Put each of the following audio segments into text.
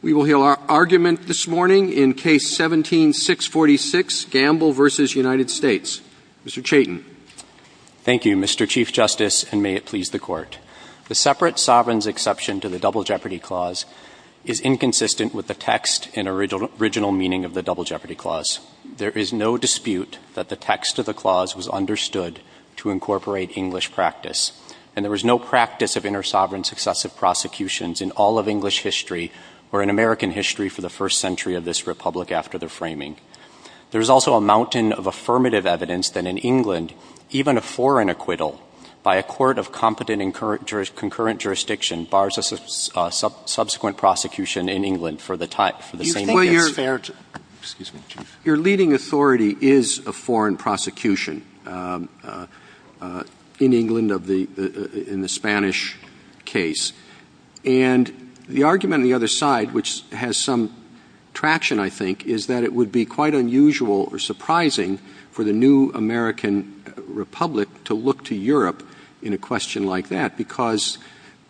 We will hear our argument this morning in Case 17-646, Gamble v. United States. Mr. Chayton. Thank you, Mr. Chief Justice, and may it please the Court. The separate sovereigns' exception to the Double Jeopardy Clause is inconsistent with the text and original meaning of the Double Jeopardy Clause. There is no dispute that the text of the clause was understood to incorporate English practice, and there is no practice of intersovereign successive prosecutions in all of English history or in American history for the first century of this republic after the framing. There is also a mountain of affirmative evidence that in England, even a foreign acquittal by a court of competent and concurrent jurisdiction bars a subsequent prosecution in England for the same offense. Your leading authority is a foreign prosecution in England in the Spanish case. And the argument on the other side, which has some traction, I think, is that it would be quite unusual or surprising for the new American republic to look to Europe in a question like that, because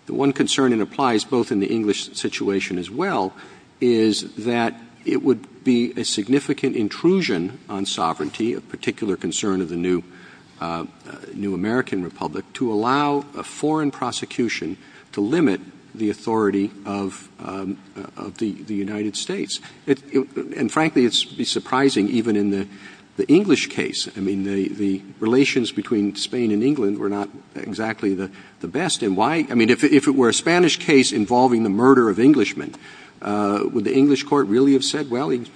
one concern that applies both in the English situation as well is that it would be a significant intrusion on sovereignty, a particular concern of the new American republic, to allow a foreign prosecution to limit the authority of the United States. And frankly, it would be surprising even in the English case. I mean, the relations between Spain and England were not exactly the best. I mean, if it were a Spanish case involving the murder of Englishmen, would the English court really have said, well, he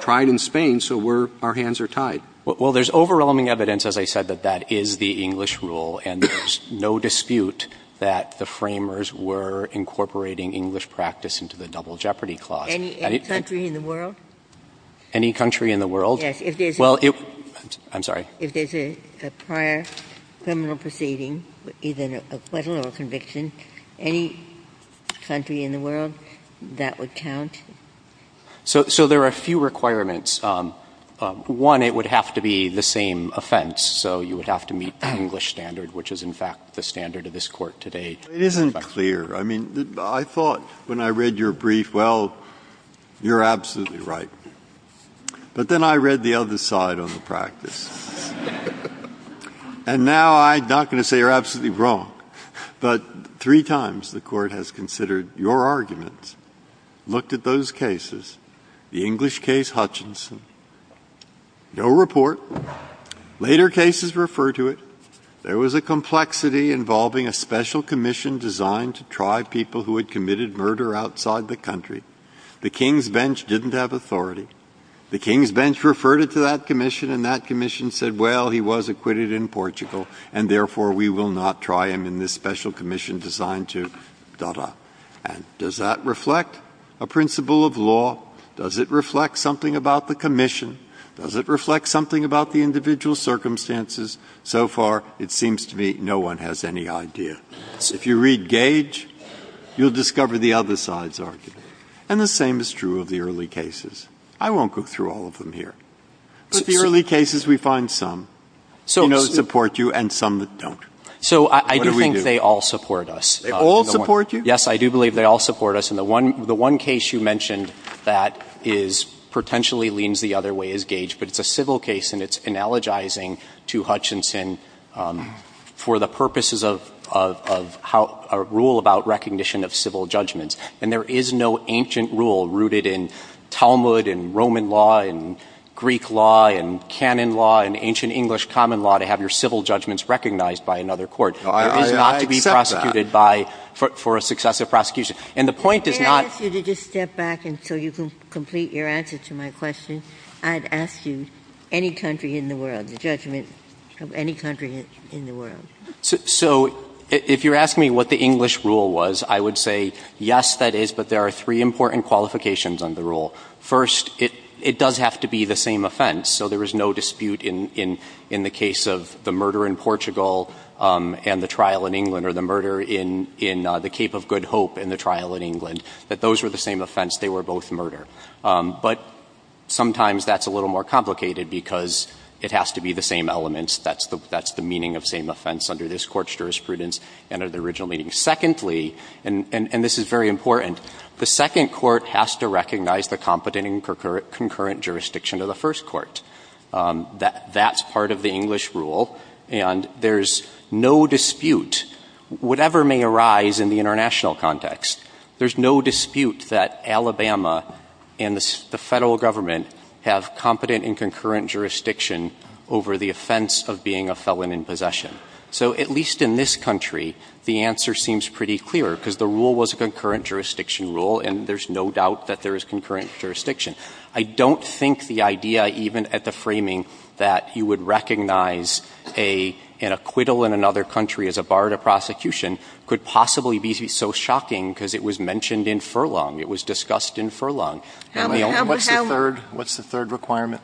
tried in Spain, so our hands are tied? Well, there's overwhelming evidence, as I said, that that is the English rule, and there's no dispute that the framers were incorporating English practice into the double jeopardy clause. Any country in the world? Any country in the world? Yes. I'm sorry. If there's a prior criminal proceeding, either an acquittal or a conviction, any country in the world that would count? So there are a few requirements. One, it would have to be the same offense, so you would have to meet the English standard, which is, in fact, the standard of this court today. It isn't clear. I mean, I thought when I read your brief, well, you're absolutely right. But then I read the other side on the practice. And now I'm not going to say you're absolutely wrong. But three times the court has considered your arguments, looked at those cases, the English case Hutchinson. No report. Later cases refer to it. There was a complexity involving a special commission designed to try people who had committed murder outside the country. The king's bench didn't have authority. The king's bench referred it to that commission, and that commission said, well, he was acquitted in Portugal, and therefore we will not try him in this special commission designed to da-da. And does that reflect a principle of law? Does it reflect something about the commission? Does it reflect something about the individual circumstances? So far, it seems to me no one has any idea. If you read Gage, you'll discover the other side's argument. And the same is true of the early cases. I won't go through all of them here. But the early cases, we find some. Some support you, and some don't. So I do think they all support us. They all support you? Yes, I do believe they all support us. And the one case you mentioned that potentially leans the other way is Gage. But it's a civil case, and it's analogizing to Hutchinson for the purposes of a rule about recognition of civil judgment. And there is no ancient rule rooted in Talmud and Roman law and Greek law and canon law and ancient English common law to have your civil judgments recognized by another court. It's not to be prosecuted for a successive prosecution. And the point is not— May I ask you to just step back until you complete your answer to my question? I'd ask you any country in the world, the judgment of any country in the world. So if you're asking me what the English rule was, I would say, yes, that is. But there are three important qualifications on the rule. First, it does have to be the same offense. So there is no dispute in the case of the murder in Portugal and the trial in England or the murder in the Cape of Good Hope and the trial in England that those were the same offense. They were both murder. But sometimes that's a little more complicated because it has to be the same elements. That's the meaning of same offense under this court's jurisprudence and under the original meaning. Secondly, and this is very important, the second court has to recognize the competent and concurrent jurisdiction of the first court. That's part of the English rule. And there's no dispute. Whatever may arise in the international context, there's no dispute that Alabama and the federal government have competent and concurrent jurisdiction over the offense of being a felon in possession. So at least in this country, the answer seems pretty clear because the rule was a concurrent jurisdiction rule, and there's no doubt that there is concurrent jurisdiction. I don't think the idea even at the framing that he would recognize an acquittal in another country as a bar to prosecution could possibly be so shocking because it was mentioned in Furlong. It was discussed in Furlong. What's the third requirement?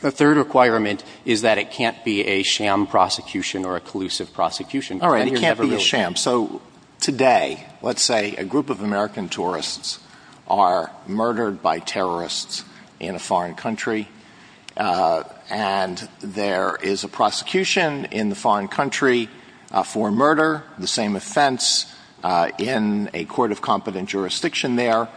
The third requirement is that it can't be a sham prosecution or a collusive prosecution. It can't be a sham. So today, let's say a group of American tourists are murdered by terrorists in a foreign country, and there is a prosecution in the foreign country for murder, the same offense, in a court of competent jurisdiction there.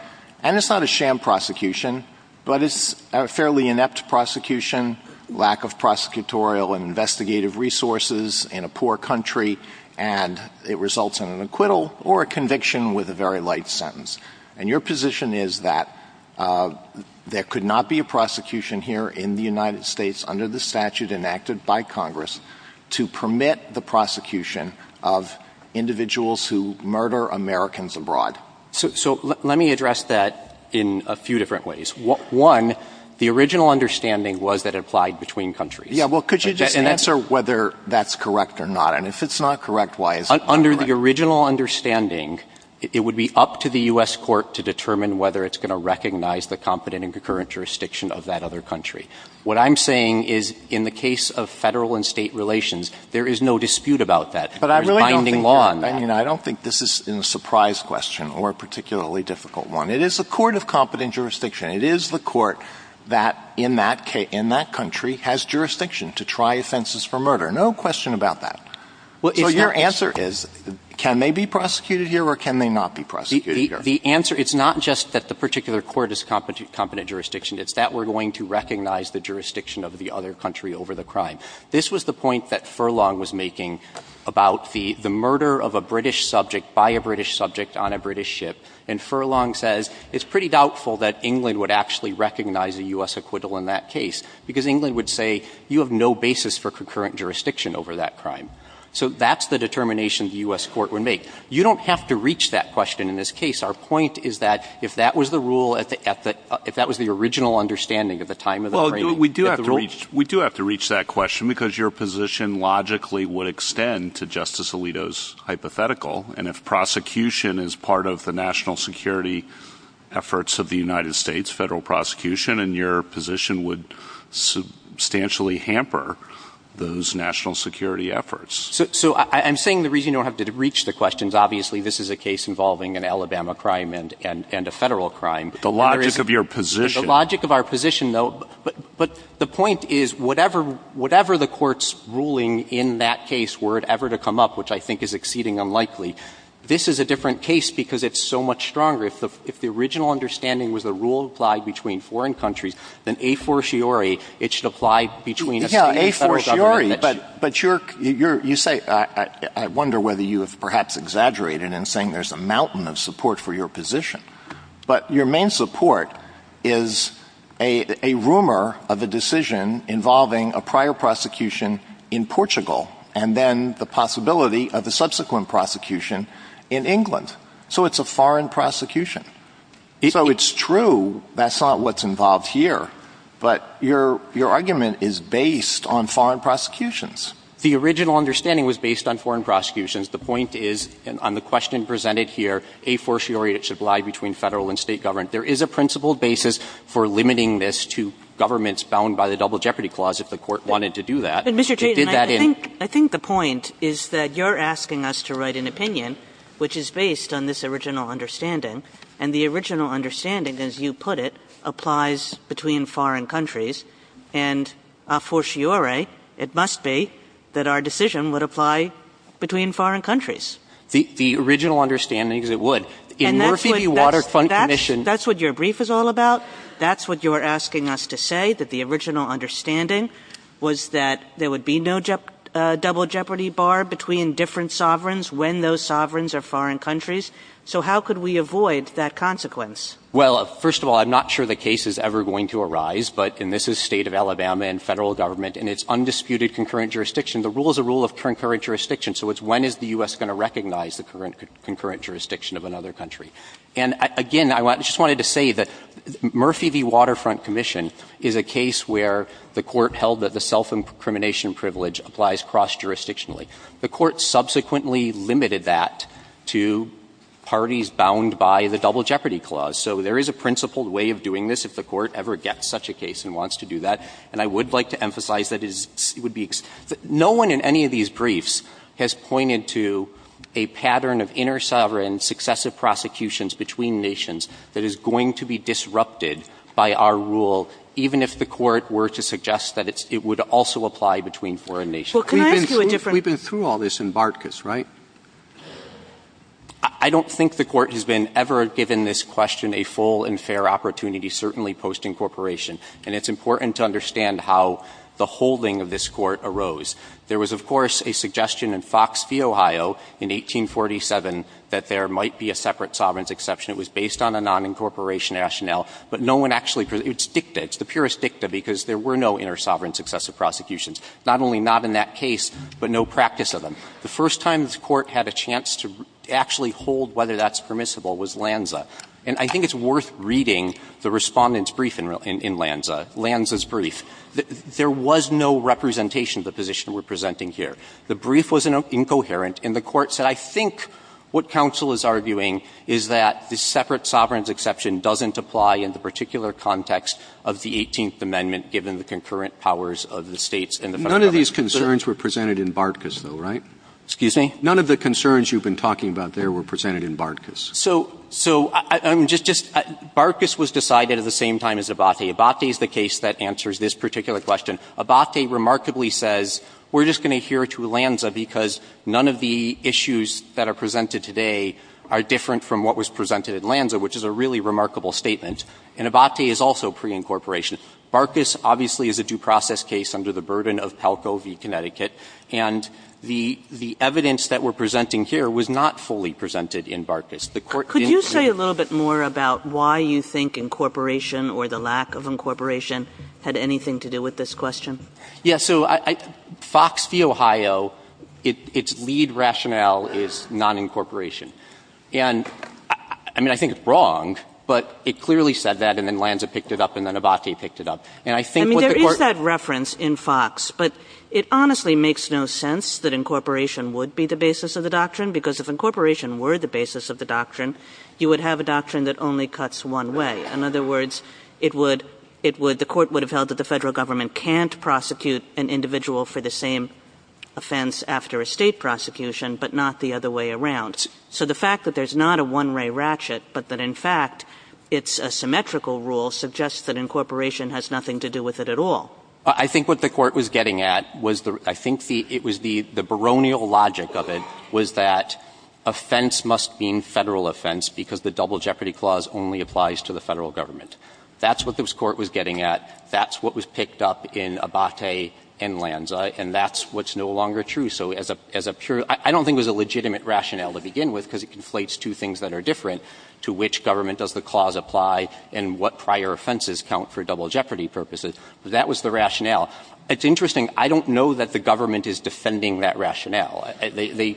And it's not a sham prosecution, but it's a fairly inept prosecution, lack of prosecutorial and investigative resources in a poor country, and it results in an acquittal or a conviction with a very light sentence. And your position is that there could not be a prosecution here in the United States under the statute enacted by Congress to permit the prosecution of individuals who murder Americans abroad. So let me address that in a few different ways. One, the original understanding was that it applied between countries. Yeah, well, could you just answer whether that's correct or not? And if it's not correct, why is it not correct? Under the original understanding, it would be up to the U.S. court to determine whether it's going to recognize the competent and concurrent jurisdiction of that other country. What I'm saying is in the case of federal and state relations, there is no dispute about that. But I don't think this is a surprise question or a particularly difficult one. It is a court of competent jurisdiction. It is the court that in that country has jurisdiction to try offenses for murder. No question about that. So your answer is, can they be prosecuted here or can they not be prosecuted here? The answer is not just that the particular court is competent jurisdiction. It's that we're going to recognize the jurisdiction of the other country over the crime. This was the point that Furlong was making about the murder of a British subject by a British subject on a British ship. And Furlong says it's pretty doubtful that England would actually recognize a U.S. acquittal in that case because England would say you have no basis for concurrent jurisdiction over that crime. So that's the determination the U.S. court would make. You don't have to reach that question in this case. Our point is that if that was the rule, if that was the original understanding at the time of the crime. We do have to reach that question because your position logically would extend to Justice Alito's hypothetical. And if prosecution is part of the national security efforts of the United States, federal prosecution, then your position would substantially hamper those national security efforts. So I'm saying the reason you don't have to reach the question is obviously this is a case involving an Alabama crime and a federal crime. The logic of your position. The logic of our position, though. But the point is whatever the court's ruling in that case were it ever to come up, which I think is exceedingly unlikely, this is a different case because it's so much stronger. If the original understanding was the rule applied between foreign countries, then a fortiori it should apply between a federal government. Yeah, a fortiori. But you say, I wonder whether you have perhaps exaggerated in saying there's a mountain of support for your position. But your main support is a rumor of a decision involving a prior prosecution in Portugal and then the possibility of a subsequent prosecution in England. So it's a foreign prosecution. So it's true that's not what's involved here. But your argument is based on foreign prosecutions. The original understanding was based on foreign prosecutions. The point is, and on the question presented here, a fortiori it should lie between federal and state government. There is a principled basis for limiting this to governments bound by the Double Jeopardy Clause if the court wanted to do that. I think the point is that you're asking us to write an opinion which is based on this original understanding. And the original understanding, as you put it, applies between foreign countries. And a fortiori it must be that our decision would apply between foreign countries. The original understanding is it would. That's what your brief is all about. That's what you're asking us to say, that the original understanding was that there would be no double jeopardy bar between different sovereigns when those sovereigns are foreign countries. So how could we avoid that consequence? Well, first of all, I'm not sure the case is ever going to arise. But this is the state of Alabama and federal government, and it's undisputed concurrent jurisdiction. The rule is a rule of concurrent jurisdiction. So it's when is the U.S. going to recognize the concurrent jurisdiction of another country? And, again, I just wanted to say that Murphy v. Waterfront Commission is a case where the court held that the self-incrimination privilege applies cross-jurisdictionally. The court subsequently limited that to parties bound by the double jeopardy clause. So there is a principled way of doing this if the court ever gets such a case and wants to do that. And I would like to emphasize that no one in any of these briefs has pointed to a pattern of intersovereign successive prosecutions between nations that is going to be disrupted by our rule, even if the court were to suggest that it would also apply between foreign nations. We've been through all this in Bartkus, right? I don't think the court has been ever given this question a full and fair opportunity, certainly post-incorporation. And it's important to understand how the holding of this court arose. There was, of course, a suggestion in Fox v. Ohio in 1847 that there might be a separate sovereigns exception. It was based on a non-incorporation rationale. But no one actually – it's dicta. It's the purest dicta because there were no intersovereign successive prosecutions. Not only not in that case, but no practice of them. The first time this court had a chance to actually hold whether that's permissible was Lanza. And I think it's worth reading the respondent's brief in Lanza, Lanza's brief. There was no representation of the position we're presenting here. The brief was incoherent. And the court said, I think what counsel is arguing is that the separate sovereigns exception doesn't apply in the particular context of the 18th Amendment, given the concurrent powers of the states. None of these concerns were presented in Bartkus, though, right? Excuse me? None of the concerns you've been talking about there were presented in Bartkus. So, I'm just – Bartkus was decided at the same time as Abate. Abate is the case that answers this particular question. Abate remarkably says, we're just going to adhere to Lanza because none of the issues that are presented today are different from what was presented in Lanza, which is a really remarkable statement. And Abate is also pre-incorporation. Bartkus, obviously, is a due process case under the burden of HELCO v. Connecticut. And the evidence that we're presenting here was not fully presented in Bartkus. Could you say a little bit more about why you think incorporation or the lack of incorporation had anything to do with this question? Yeah. So, Fox v. Ohio, its lead rationale is non-incorporation. And, I mean, I think it's wrong, but it clearly said that, and then Lanza picked it up, and then Abate picked it up. And I think what the court – I mean, there is that reference in Fox. But it honestly makes no sense that incorporation would be the basis of the doctrine, because if incorporation were the basis of the doctrine, you would have a doctrine that only cuts one way. In other words, it would – the court would have held that the federal government can't prosecute an individual for the same offense after a state prosecution, but not the other way around. So the fact that there's not a one-way ratchet, but that, in fact, it's a symmetrical rule, suggests that incorporation has nothing to do with it at all. I think what the court was getting at was the – I think it was the baronial logic of it was that offense must mean federal offense, because the double jeopardy clause only applies to the federal government. That's what this court was getting at. That's what was picked up in Abate and Lanza, and that's what's no longer true. So as a – I don't think it was a legitimate rationale to begin with, because it conflates two things that are different, to which government does the clause apply and what prior offenses count for double jeopardy purposes. That was the rationale. It's interesting. I don't know that the government is defending that rationale. They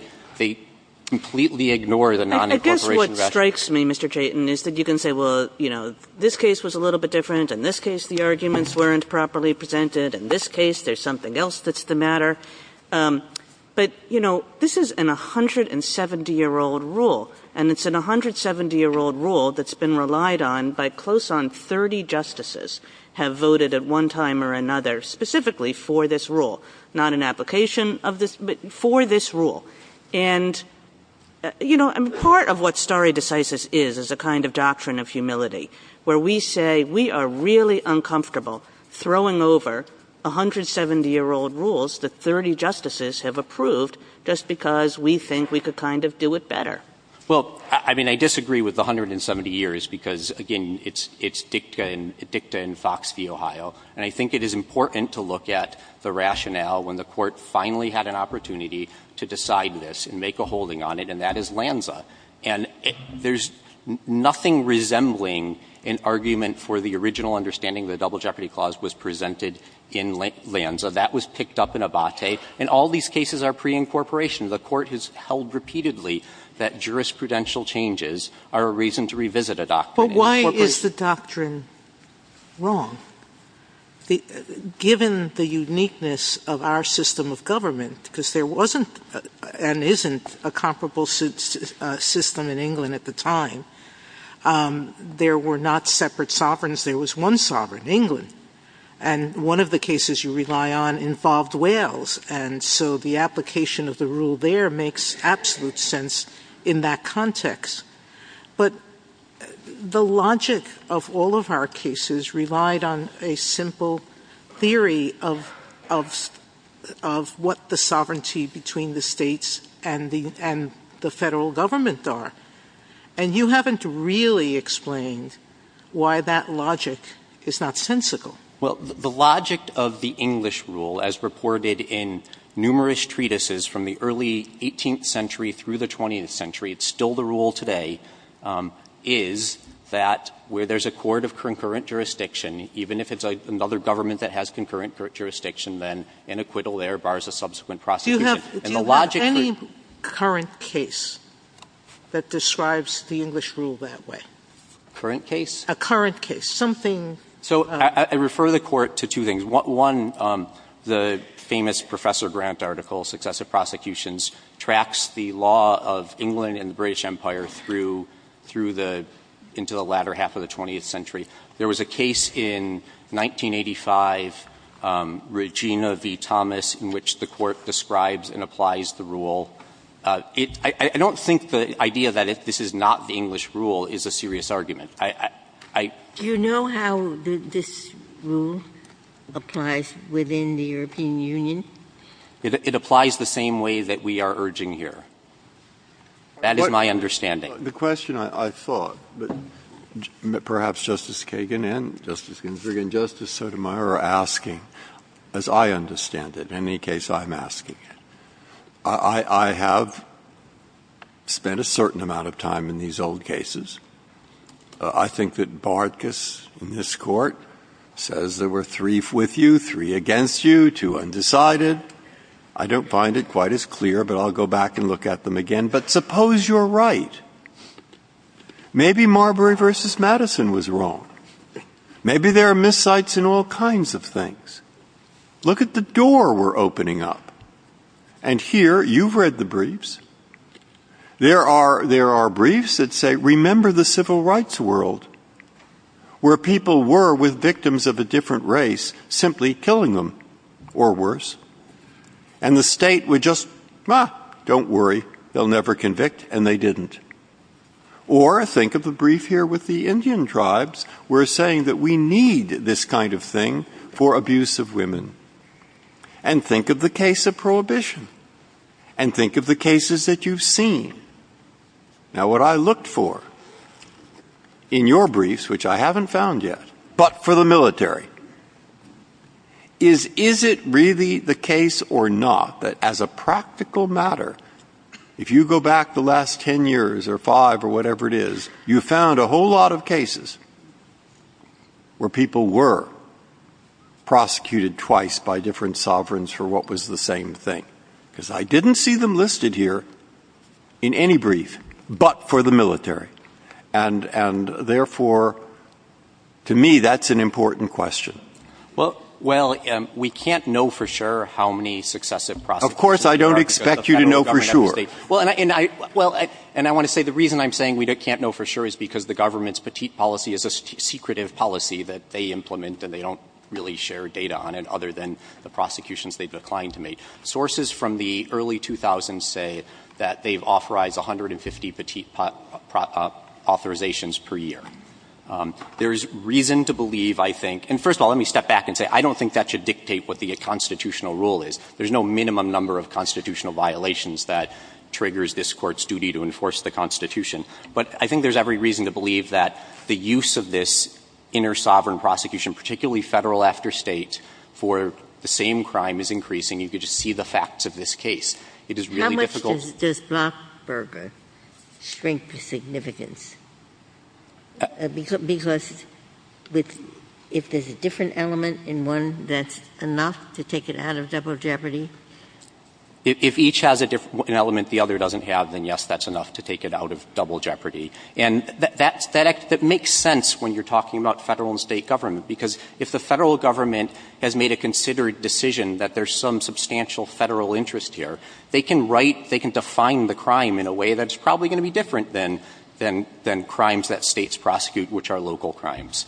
completely ignore the non-incorporation rationale. I guess what strikes me, Mr. Chayton, is that you can say, well, you know, this case was a little bit different. In this case, the arguments weren't properly presented. In this case, there's something else that's the matter. But, you know, this is a 170-year-old rule, and it's a 170-year-old rule that's been relied on by close on 30 justices have voted at one time or another specifically for this rule, not an application for this rule. And, you know, part of what stare decisis is is a kind of doctrine of humility, where we say we are really uncomfortable throwing over 170-year-old rules that 30 justices have approved just because we think we could kind of do it better. Well, I mean, I disagree with the 170 years because, again, it's dicta in Fox v. Ohio. And I think it is important to look at the rationale when the court finally had an opportunity to decide this and make a holding on it, and that is LAMSA. And there's nothing resembling an argument for the original understanding the Double Jeopardy Clause was presented in LAMSA. That was picked up in Abbate. And all these cases are pre-incorporation. The court has held repeatedly that jurisprudential changes are a reason to revisit a doctrine. But why is the doctrine wrong? Given the uniqueness of our system of government, because there wasn't and isn't a comparable system in England at the time, there were not separate sovereigns. There was one sovereign, England. And one of the cases you rely on involved Wales. And so the application of the rule there makes absolute sense in that context. But the logic of all of our cases relied on a simple theory of what the sovereignty between the states and the federal government are. And you haven't really explained why that logic is not sensical. Well, the logic of the English rule, as reported in numerous treatises from the early 18th century through the 20th century, it's still the rule today, is that where there's a court of concurrent jurisdiction, even if it's another government that has concurrent jurisdiction, then an acquittal there bars a subsequent prosecution. Do you have any current case that describes the English rule that way? Current case? A current case. So I refer the court to two things. One, the famous Professor Grant article, Successive Prosecutions, tracks the law of England and the British Empire into the latter half of the 20th century. There was a case in 1985, Regina v. Thomas, in which the court describes and applies the rule. I don't think the idea that this is not the English rule is a serious argument. Do you know how this rule applies within the European Union? It applies the same way that we are urging here. That is my understanding. The question, I thought, perhaps Justice Kagan and Justice Ginsburg and Justice Sotomayor are asking, as I understand it, in any case, I'm asking. I have spent a certain amount of time in these old cases. I think that Bartkus in this court says there were three with you, three against you, two undecided. I don't find it quite as clear, but I'll go back and look at them again. But suppose you're right. Maybe Marbury v. Madison was wrong. Look at the briefs. Look at the door we are opening up. And here, you have read the briefs. There are briefs that say, remember the civil rights world where people were with victims of a different race, simply killing them. Or worse. And the state would just, don't worry, they will never convict, and they didn't. Or, think of the brief here with the Indian tribes, where it is saying that we need this kind of thing for abuse of women. And think of the case of prohibition. And think of the cases that you have seen. Now, what I look for, in your briefs, which I haven't found yet, but for the military, is, is it really the case or not, that as a practical matter, if you go back the last ten years, or five, or whatever it is, you found a whole lot of cases where people were prosecuted twice by different sovereigns for what was the same thing. Because I didn't see them listed here in any brief, but for the military. And, therefore, to me, that's an important question. Well, we can't know for sure how many successive prosecutions there are. Of course, I don't expect you to know for sure. Well, and I want to say, the reason I'm saying we can't know for sure is because the government's petite policy is a secretive policy that they implement, and they don't really share data on it, other than the prosecutions they've declined to make. Sources from the early 2000s say that they've authorized 150 petite authorizations per year. There's reason to believe, I think, and first of all, let me step back and say, I don't think that should dictate what the constitutional rule is. There's no minimum number of constitutional violations that triggers this Court's duty to enforce the Constitution. But I think there's every reason to believe that the use of this inner sovereign prosecution, particularly federal after state, for the same crime is increasing. You can just see the facts of this case. It is really difficult. How much does Rothberger strengthen significance? Because if there's a different element in one, that's enough to take it out of double jeopardy? If each has an element the other doesn't have, then, yes, that's enough to take it out of double jeopardy. And that makes sense when you're talking about federal and state government, because if the federal government has made a considered decision that there's some substantial federal interest here, they can define the crime in a way that's probably going to be different than crimes that states prosecute, which are local crimes.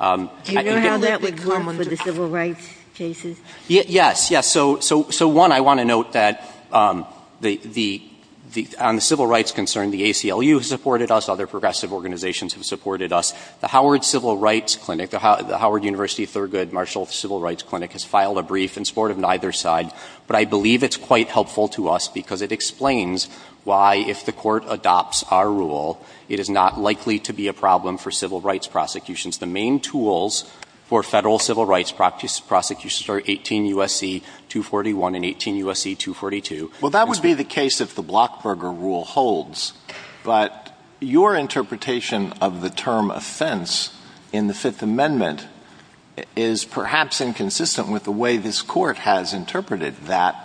Do you know how that would go under the civil rights cases? Yes. So, one, I want to note that on the civil rights concern, the ACLU has supported us, other progressive organizations have supported us. The Howard Civil Rights Clinic, the Howard University Thurgood Marshall Civil Rights Clinic, has filed a brief in support of neither side. But I believe it's quite helpful to us because it explains why, if the Court adopts our rule, it is not likely to be a problem for civil rights prosecutions. The main tools for federal civil rights prosecutions are 18 U.S.C. 241 and 18 U.S.C. 242. Well, that would be the case if the Blockburger Rule holds. But your interpretation of the term offense in the Fifth Amendment is perhaps inconsistent with the way this Court has interpreted that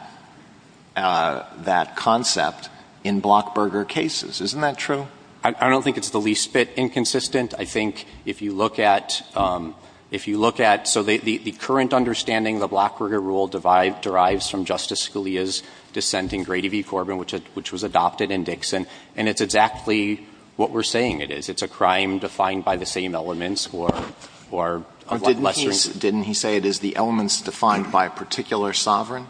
concept in Blockburger cases. Isn't that true? I don't think it's the least bit inconsistent. I think if you look at — so the current understanding of the Blockburger Rule derives from Justice Scalia's dissent in Grady v. Corbin, which was adopted in Dixon, and it's exactly what we're saying it is. It's a crime defined by the same elements or — Didn't he say it is the elements defined by a particular sovereign?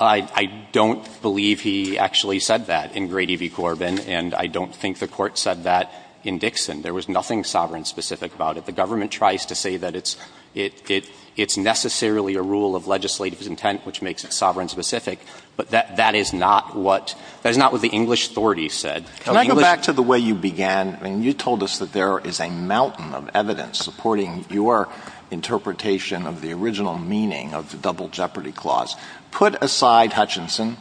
I don't believe he actually said that in Grady v. Corbin, and I don't think the Court said that in Dixon. There was nothing sovereign-specific about it. The government tries to say that it's necessarily a rule of legislative intent, which makes it sovereign-specific, but that is not what the English authorities said. Can I go back to the way you began? I mean, you told us that there is a mountain of evidence supporting your interpretation of the original meaning of the Double Jeopardy Clause. Put aside Hutchinson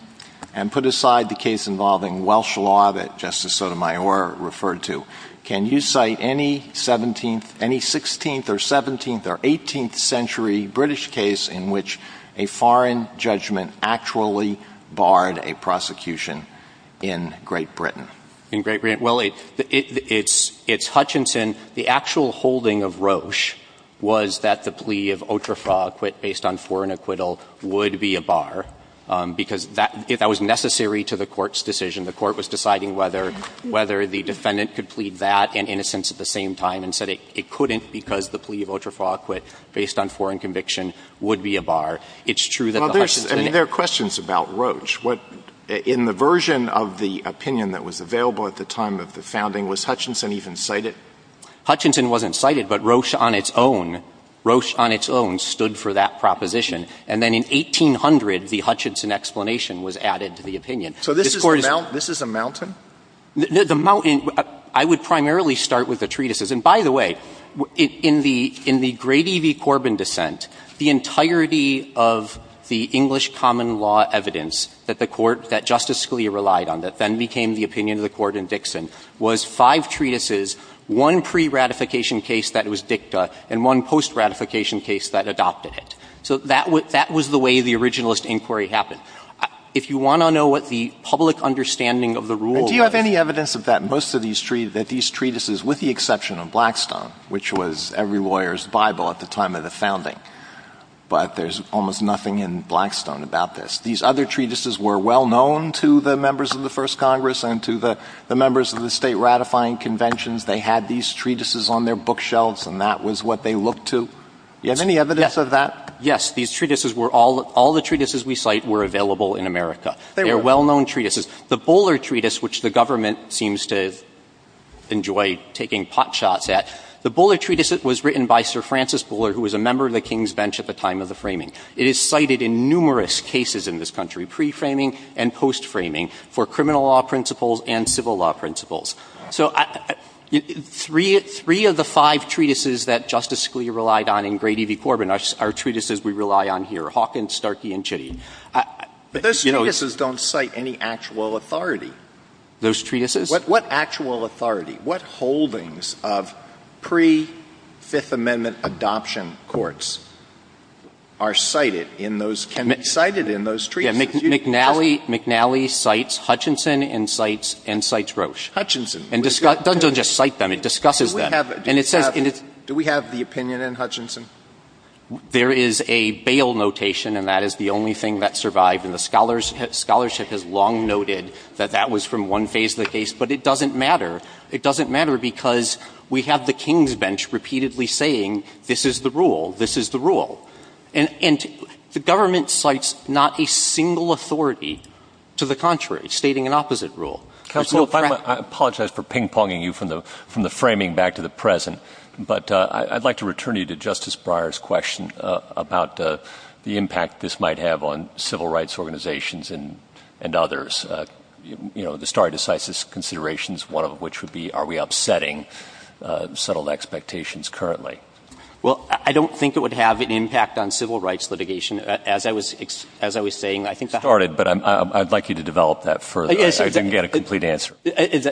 and put aside the case involving Welsh law that Justice Sotomayor referred to. Can you cite any 16th or 17th or 18th century British case in which a foreign judgment actually barred a prosecution in Great Britain? In Great Britain? Well, it's Hutchinson. The actual holding of Roche was that the plea of outrefaux acquit based on foreign acquittal would be a bar, because that was necessary to the Court's decision. The Court was deciding whether the defendant could plead that and innocence at the same time and said it couldn't because the plea of outrefaux acquit based on foreign conviction would be a bar. It's true that the Hutchinson — Well, there are questions about Roche. In the version of the opinion that was available at the time of the founding, was Hutchinson even cited? Hutchinson wasn't cited, but Roche on its own — Roche on its own stood for that proposition. And then in 1800, the Hutchinson explanation was added to the opinion. So this is a mountain? The mountain — I would primarily start with the treatises. And by the way, in the Grady v. Corbin dissent, the entirety of the English common law evidence that the Court — that Justice Scalia relied on that then became the opinion of the Court in Dixon was five treatises, one pre-ratification case that was dicta, and one post-ratification case that adopted it. So that was the way the originalist inquiry happened. If you want to know what the public understanding of the rule — Do you have any evidence of that? Most of these treatises, with the exception of Blackstone, which was every lawyer's Bible at the time of the founding. But there's almost nothing in Blackstone about this. These other treatises were well-known to the members of the first Congress and to the members of the state ratifying conventions. They had these treatises on their bookshelves, and that was what they looked to. Do you have any evidence of that? Yes, these treatises were — all the treatises we cite were available in America. They were well-known treatises. The Bowler Treatise, which the government seems to enjoy taking potshots at, the Bowler Treatise was written by Sir Francis Bowler, who was a member of the King's Bench at the time of the framing. It is cited in numerous cases in this country, pre-framing and post-framing, for criminal law principles and civil law principles. Three of the five treatises that Justice Scalia relied on in Grady v. Corbin are treatises we rely on here, Hawkins, Starkey, and Chitty. But those treatises don't cite any actual authority. Those treatises? What actual authority, what holdings of pre-Fifth Amendment adoption courts are cited in those treatises? McNally cites Hutchinson and cites Roche. Hutchinson? It doesn't just cite them, it discusses them. Do we have the opinion in Hutchinson? There is a bail notation, and that is the only thing that survived, and the scholarship has long noted that that was from one phase of the case. But it doesn't matter. It doesn't matter because we have the King's Bench repeatedly saying, this is the rule, this is the rule. And the government cites not a single authority to the contrary, stating an opposite rule. Counsel, I apologize for ping-ponging you from the framing back to the present, but I'd like to return you to Justice Breyer's question about the impact this might have on civil rights organizations and others, you know, the stare decisis considerations, one of which would be, are we upsetting settled expectations currently? Well, I don't think it would have an impact on civil rights litigation. As I was saying, I think the – Sorry, but I'd like you to develop that further. I didn't get a complete answer.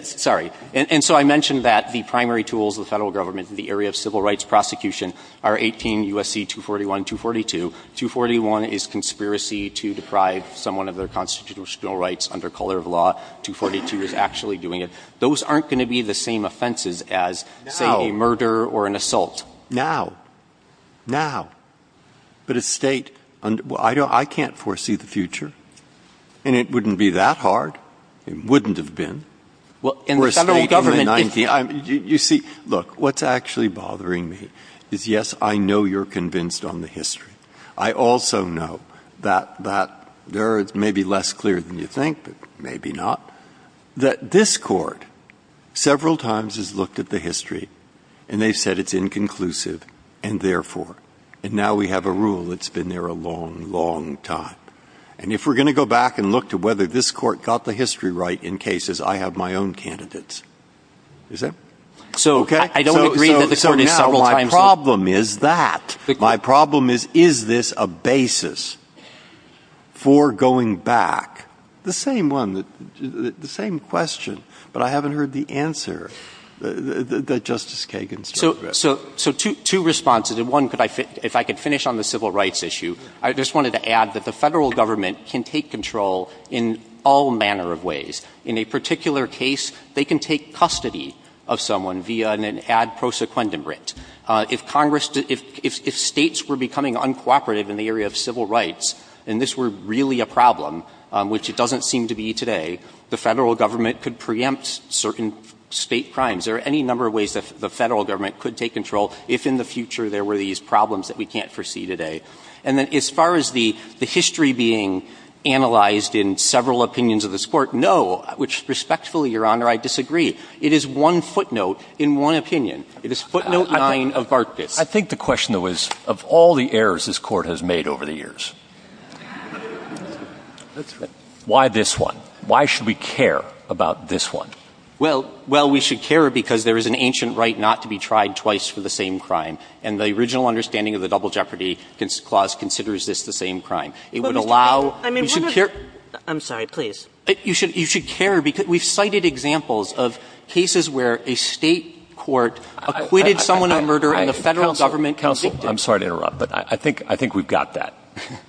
Sorry. And so I mentioned that the primary tools of the federal government in the area of civil rights prosecution are 18 U.S.C. 241, 242. 241 is conspiracy to deprive someone of their constitutional rights under color of law. 242 is actually doing it. Those aren't going to be the same offenses as, say, a murder or an assault. Now. Now. But a state – I can't foresee the future, and it wouldn't be that hard. It wouldn't have been. Well, in the federal government – You see, look, what's actually bothering me is, yes, I know you're convinced on the history. I also know that there is maybe less clear than you think, but maybe not, that this court several times has looked at the history, and they said it's inconclusive, and therefore – and now we have a rule that's been there a long, long time. And if we're going to go back and look to whether this court got the history right in cases, I have my own candidates. Is that – So I don't agree that the – So now my problem is that. My problem is, is this a basis for going back? The same one. The same question, but I haven't heard the answer that Justice Kagan said. So two responses. One, if I could finish on the civil rights issue, I just wanted to add that the federal government can take control in all manner of ways. In a particular case, they can take custody of someone via an ad prosequendum writ. If Congress – if states were becoming uncooperative in the area of civil rights, and this were really a problem, which it doesn't seem to be today, the federal government could preempt certain state crimes. There are any number of ways that the federal government could take control if in the future there were these problems that we can't foresee today. And then as far as the history being analyzed in several opinions of this court, no. Which, respectfully, Your Honor, I disagree. It is one footnote in one opinion. It is footnote nine of Bartlett. I think the question, though, is, of all the errors this court has made over the years, why this one? Why should we care about this one? Well, we should care because there is an ancient right not to be tried twice for the same crime. And the original understanding of the double jeopardy clause considers this the same crime. It would allow – I'm sorry, please. You should care because we've cited examples of cases where a state court acquitted someone of murder and the federal government – Counsel, I'm sorry to interrupt, but I think we've got that.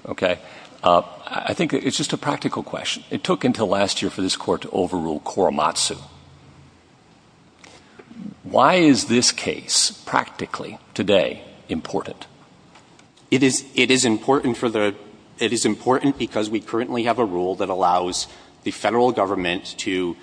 Okay? I think it's just a practical question. It took until last year for this court to overrule Korematsu. Why is this case practically today important? It is important because we currently have a rule that allows the federal government to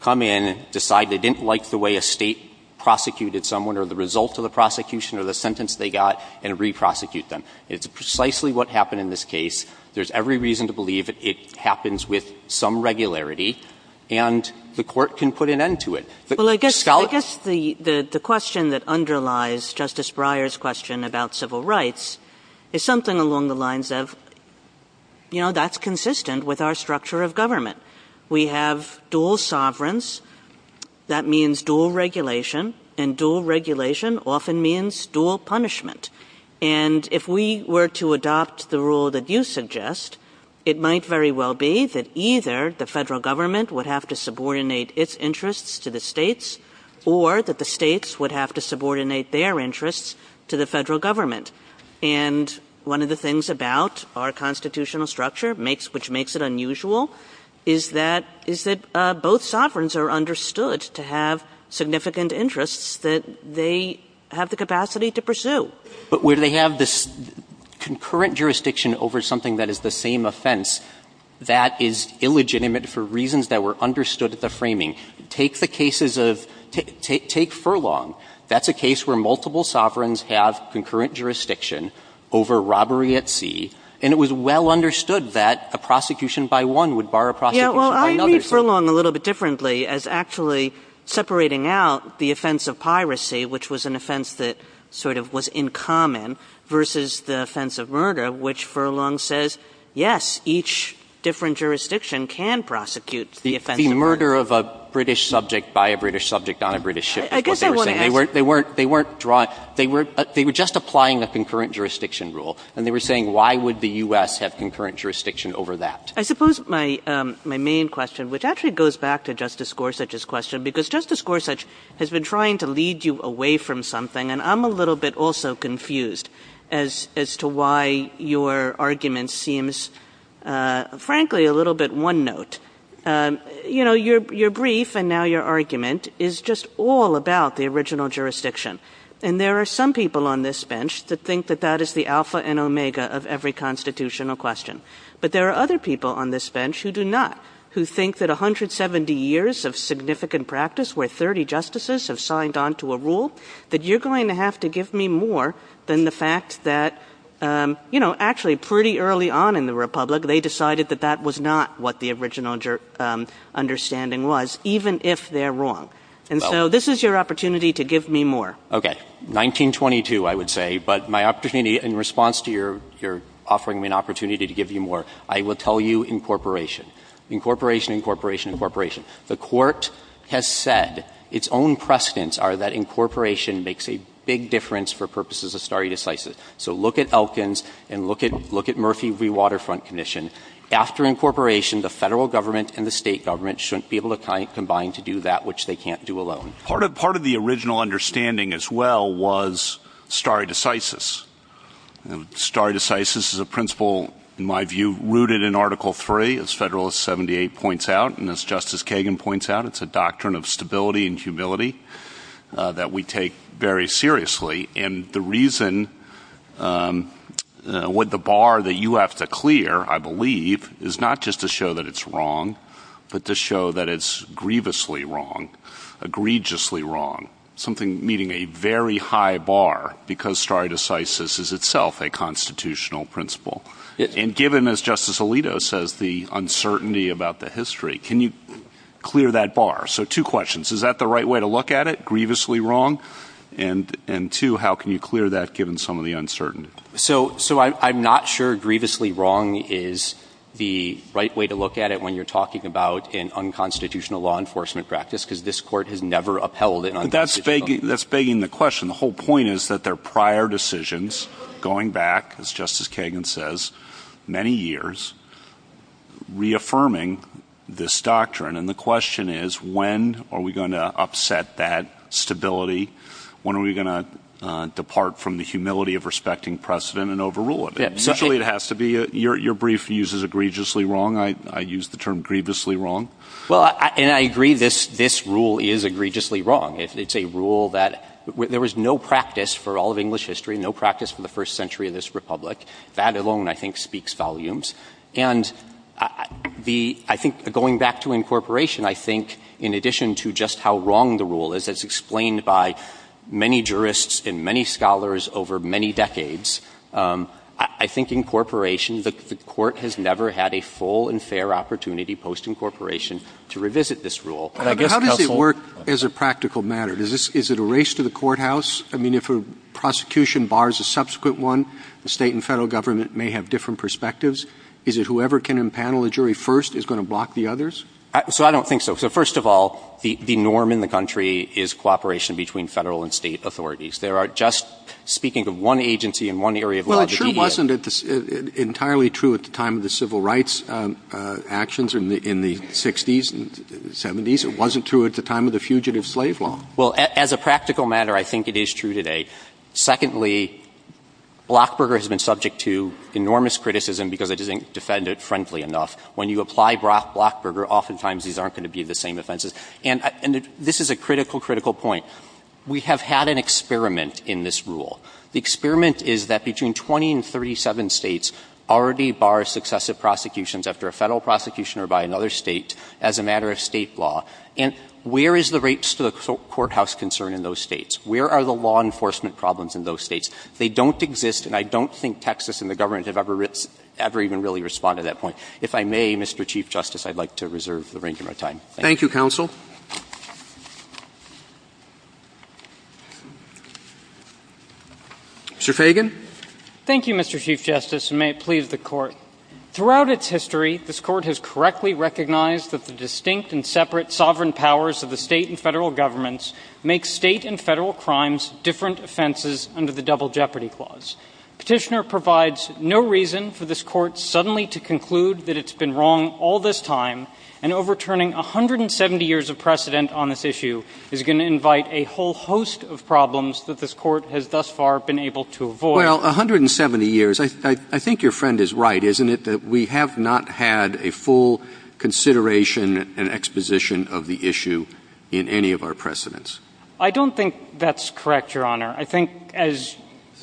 come in and decide they didn't like the way a state prosecuted someone or the results of the prosecution or the sentence they got and re-prosecute them. It's precisely what happened in this case. There's every reason to believe it happens with some regularity, and the court can put an end to it. Well, I guess the question that underlies Justice Breyer's question about civil rights is something along the lines of, you know, that's consistent with our structure of government. We have dual sovereigns. That means dual regulation, and dual regulation often means dual punishment. And if we were to adopt the rule that you suggest, it might very well be that either the federal government would have to subordinate its interests to the states or that the states would have to subordinate their interests to the federal government. And one of the things about our constitutional structure, which makes it unusual, is that both sovereigns are understood to have significant interests that they have the capacity to pursue. But when they have this concurrent jurisdiction over something that is the same offense, that is illegitimate for reasons that were understood at the framing. Take the cases of – take Furlong. That's a case where multiple sovereigns have concurrent jurisdiction over robbery at sea, and it was well understood that a prosecution by one would bar a prosecution by another. Yeah, well, I read Furlong a little bit differently as actually separating out the offense of piracy, which was an offense that sort of was in common, versus the offense of murder, which Furlong says, yes, each different jurisdiction can prosecute the offense of murder. The murder of a British subject by a British subject on a British ship is what they were saying. They weren't drawing – they were just applying the concurrent jurisdiction rule, and they were saying why would the U.S. have concurrent jurisdiction over that. I suppose my main question, which actually goes back to Justice Gorsuch's question, because Justice Gorsuch has been trying to lead you away from something, and I'm a little bit also confused as to why your argument seems, frankly, a little bit one-note. You know, your brief and now your argument is just all about the original jurisdiction, and there are some people on this bench that think that that is the alpha and omega of every constitutional question, but there are other people on this bench who do not, who think that 170 years of significant practice where 30 justices have signed on to a rule, that you're going to have to give me more than the fact that, you know, actually pretty early on in the republic they decided that that was not what the original understanding was, even if they're wrong, and so this is your opportunity to give me more. Okay. 1922, I would say. But my opportunity in response to your offering me an opportunity to give you more, I will tell you incorporation. Incorporation, incorporation, incorporation. The Court has said its own precedents are that incorporation makes a big difference for purposes of stare decisis. So look at Elkins and look at Murphy v. Waterfront Commission. After incorporation, the federal government and the state government shouldn't be able to combine to do that, which they can't do alone. Part of the original understanding as well was stare decisis. Stare decisis is a principle, in my view, rooted in Article III, as Federalist 78 points out, and as Justice Kagan points out, it's a doctrine of stability and humility that we take very seriously, and the reason with the bar that you have to clear, I believe, is not just to show that it's wrong, but to show that it's grievously wrong, egregiously wrong, something meeting a very high bar, because stare decisis is itself a constitutional principle. And given, as Justice Alito says, the uncertainty about the history, can you clear that bar? So two questions. Is that the right way to look at it, grievously wrong? And two, how can you clear that given some of the uncertainty? So I'm not sure grievously wrong is the right way to look at it when you're talking about an unconstitutional law enforcement practice, because this Court has never upheld it. That's begging the question. The whole point is that there are prior decisions going back, as Justice Kagan says, many years, reaffirming this doctrine. And the question is, when are we going to upset that stability? When are we going to depart from the humility of respecting precedent and overrule it? Your brief uses egregiously wrong. I use the term grievously wrong. Well, and I agree this rule is egregiously wrong. It's a rule that there was no practice for all of English history, no practice for the first century of this republic. That alone, I think, speaks volumes. And I think going back to incorporation, I think, in addition to just how wrong the rule is, as explained by many jurists and many scholars over many decades, I think incorporation, the Court has never had a full and fair opportunity post-incorporation to revisit this rule. How does it work as a practical matter? Is it a race to the courthouse? I mean, if a prosecution bars a subsequent one, the state and federal government may have different perspectives. Is it whoever can impanel a jury first is going to block the others? So I don't think so. So, first of all, the norm in the country is cooperation between federal and state authorities. There are just, speaking of one agency in one area of law. Well, it sure wasn't entirely true at the time of the civil rights actions in the 60s and 70s. It wasn't true at the time of the Fugitive Slave Law. Well, as a practical matter, I think it is true today. Secondly, Blockburger has been subject to enormous criticism because it isn't defendant-friendly enough. When you apply Blockburger, oftentimes these aren't going to be the same offenses. And this is a critical, critical point. We have had an experiment in this rule. The experiment is that between 20 and 37 states already bar successive prosecutions after a federal prosecution or by another state as a matter of state law. And where is the rates to the courthouse concern in those states? Where are the law enforcement problems in those states? They don't exist, and I don't think Texas and the government have ever even really responded to that point. If I may, Mr. Chief Justice, I'd like to reserve the range of my time. Thank you. Mr. Fagan. Thank you, Mr. Chief Justice, and may it please the Court. Throughout its history, this Court has correctly recognized that the distinct and separate sovereign powers of the state and federal governments make state and federal crimes different offenses under the Double Jeopardy Clause. Petitioner provides no reason for this Court suddenly to conclude that it's been wrong all this time, and overturning 170 years of precedent on this issue is going to invite a whole host of problems that this Court has thus far been able to avoid. Well, 170 years, I think your friend is right, isn't it, that we have not had a full consideration and exposition of the issue in any of our precedents? I don't think that's correct, Your Honor. I think, as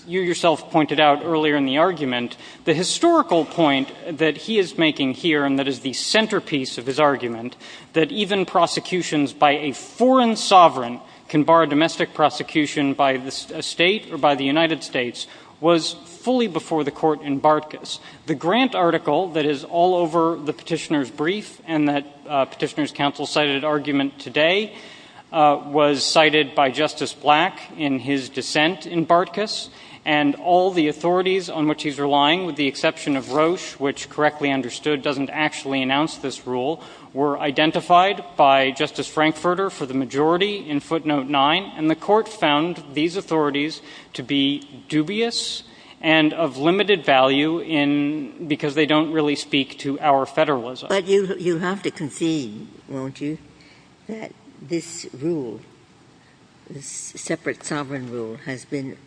you yourself pointed out earlier in the argument, the historical point that he is making here, and that is the centerpiece of his argument, that even prosecutions by a foreign sovereign can bar domestic prosecution by a state or by the United States, was fully before the Court in Bartkus. The grant article that is all over the Petitioner's brief and that Petitioner's counsel cited in argument today was cited by Justice Black in his dissent in Bartkus, and all the authorities on which he's relying, with the exception of Roche, which correctly understood doesn't actually announce this rule, were identified by Justice Frankfurter for the majority in footnote 9, and the Court found these authorities to be dubious and of limited value because they don't really speak to our federalism. But you have to concede, won't you, that this rule, this separate sovereign rule, has been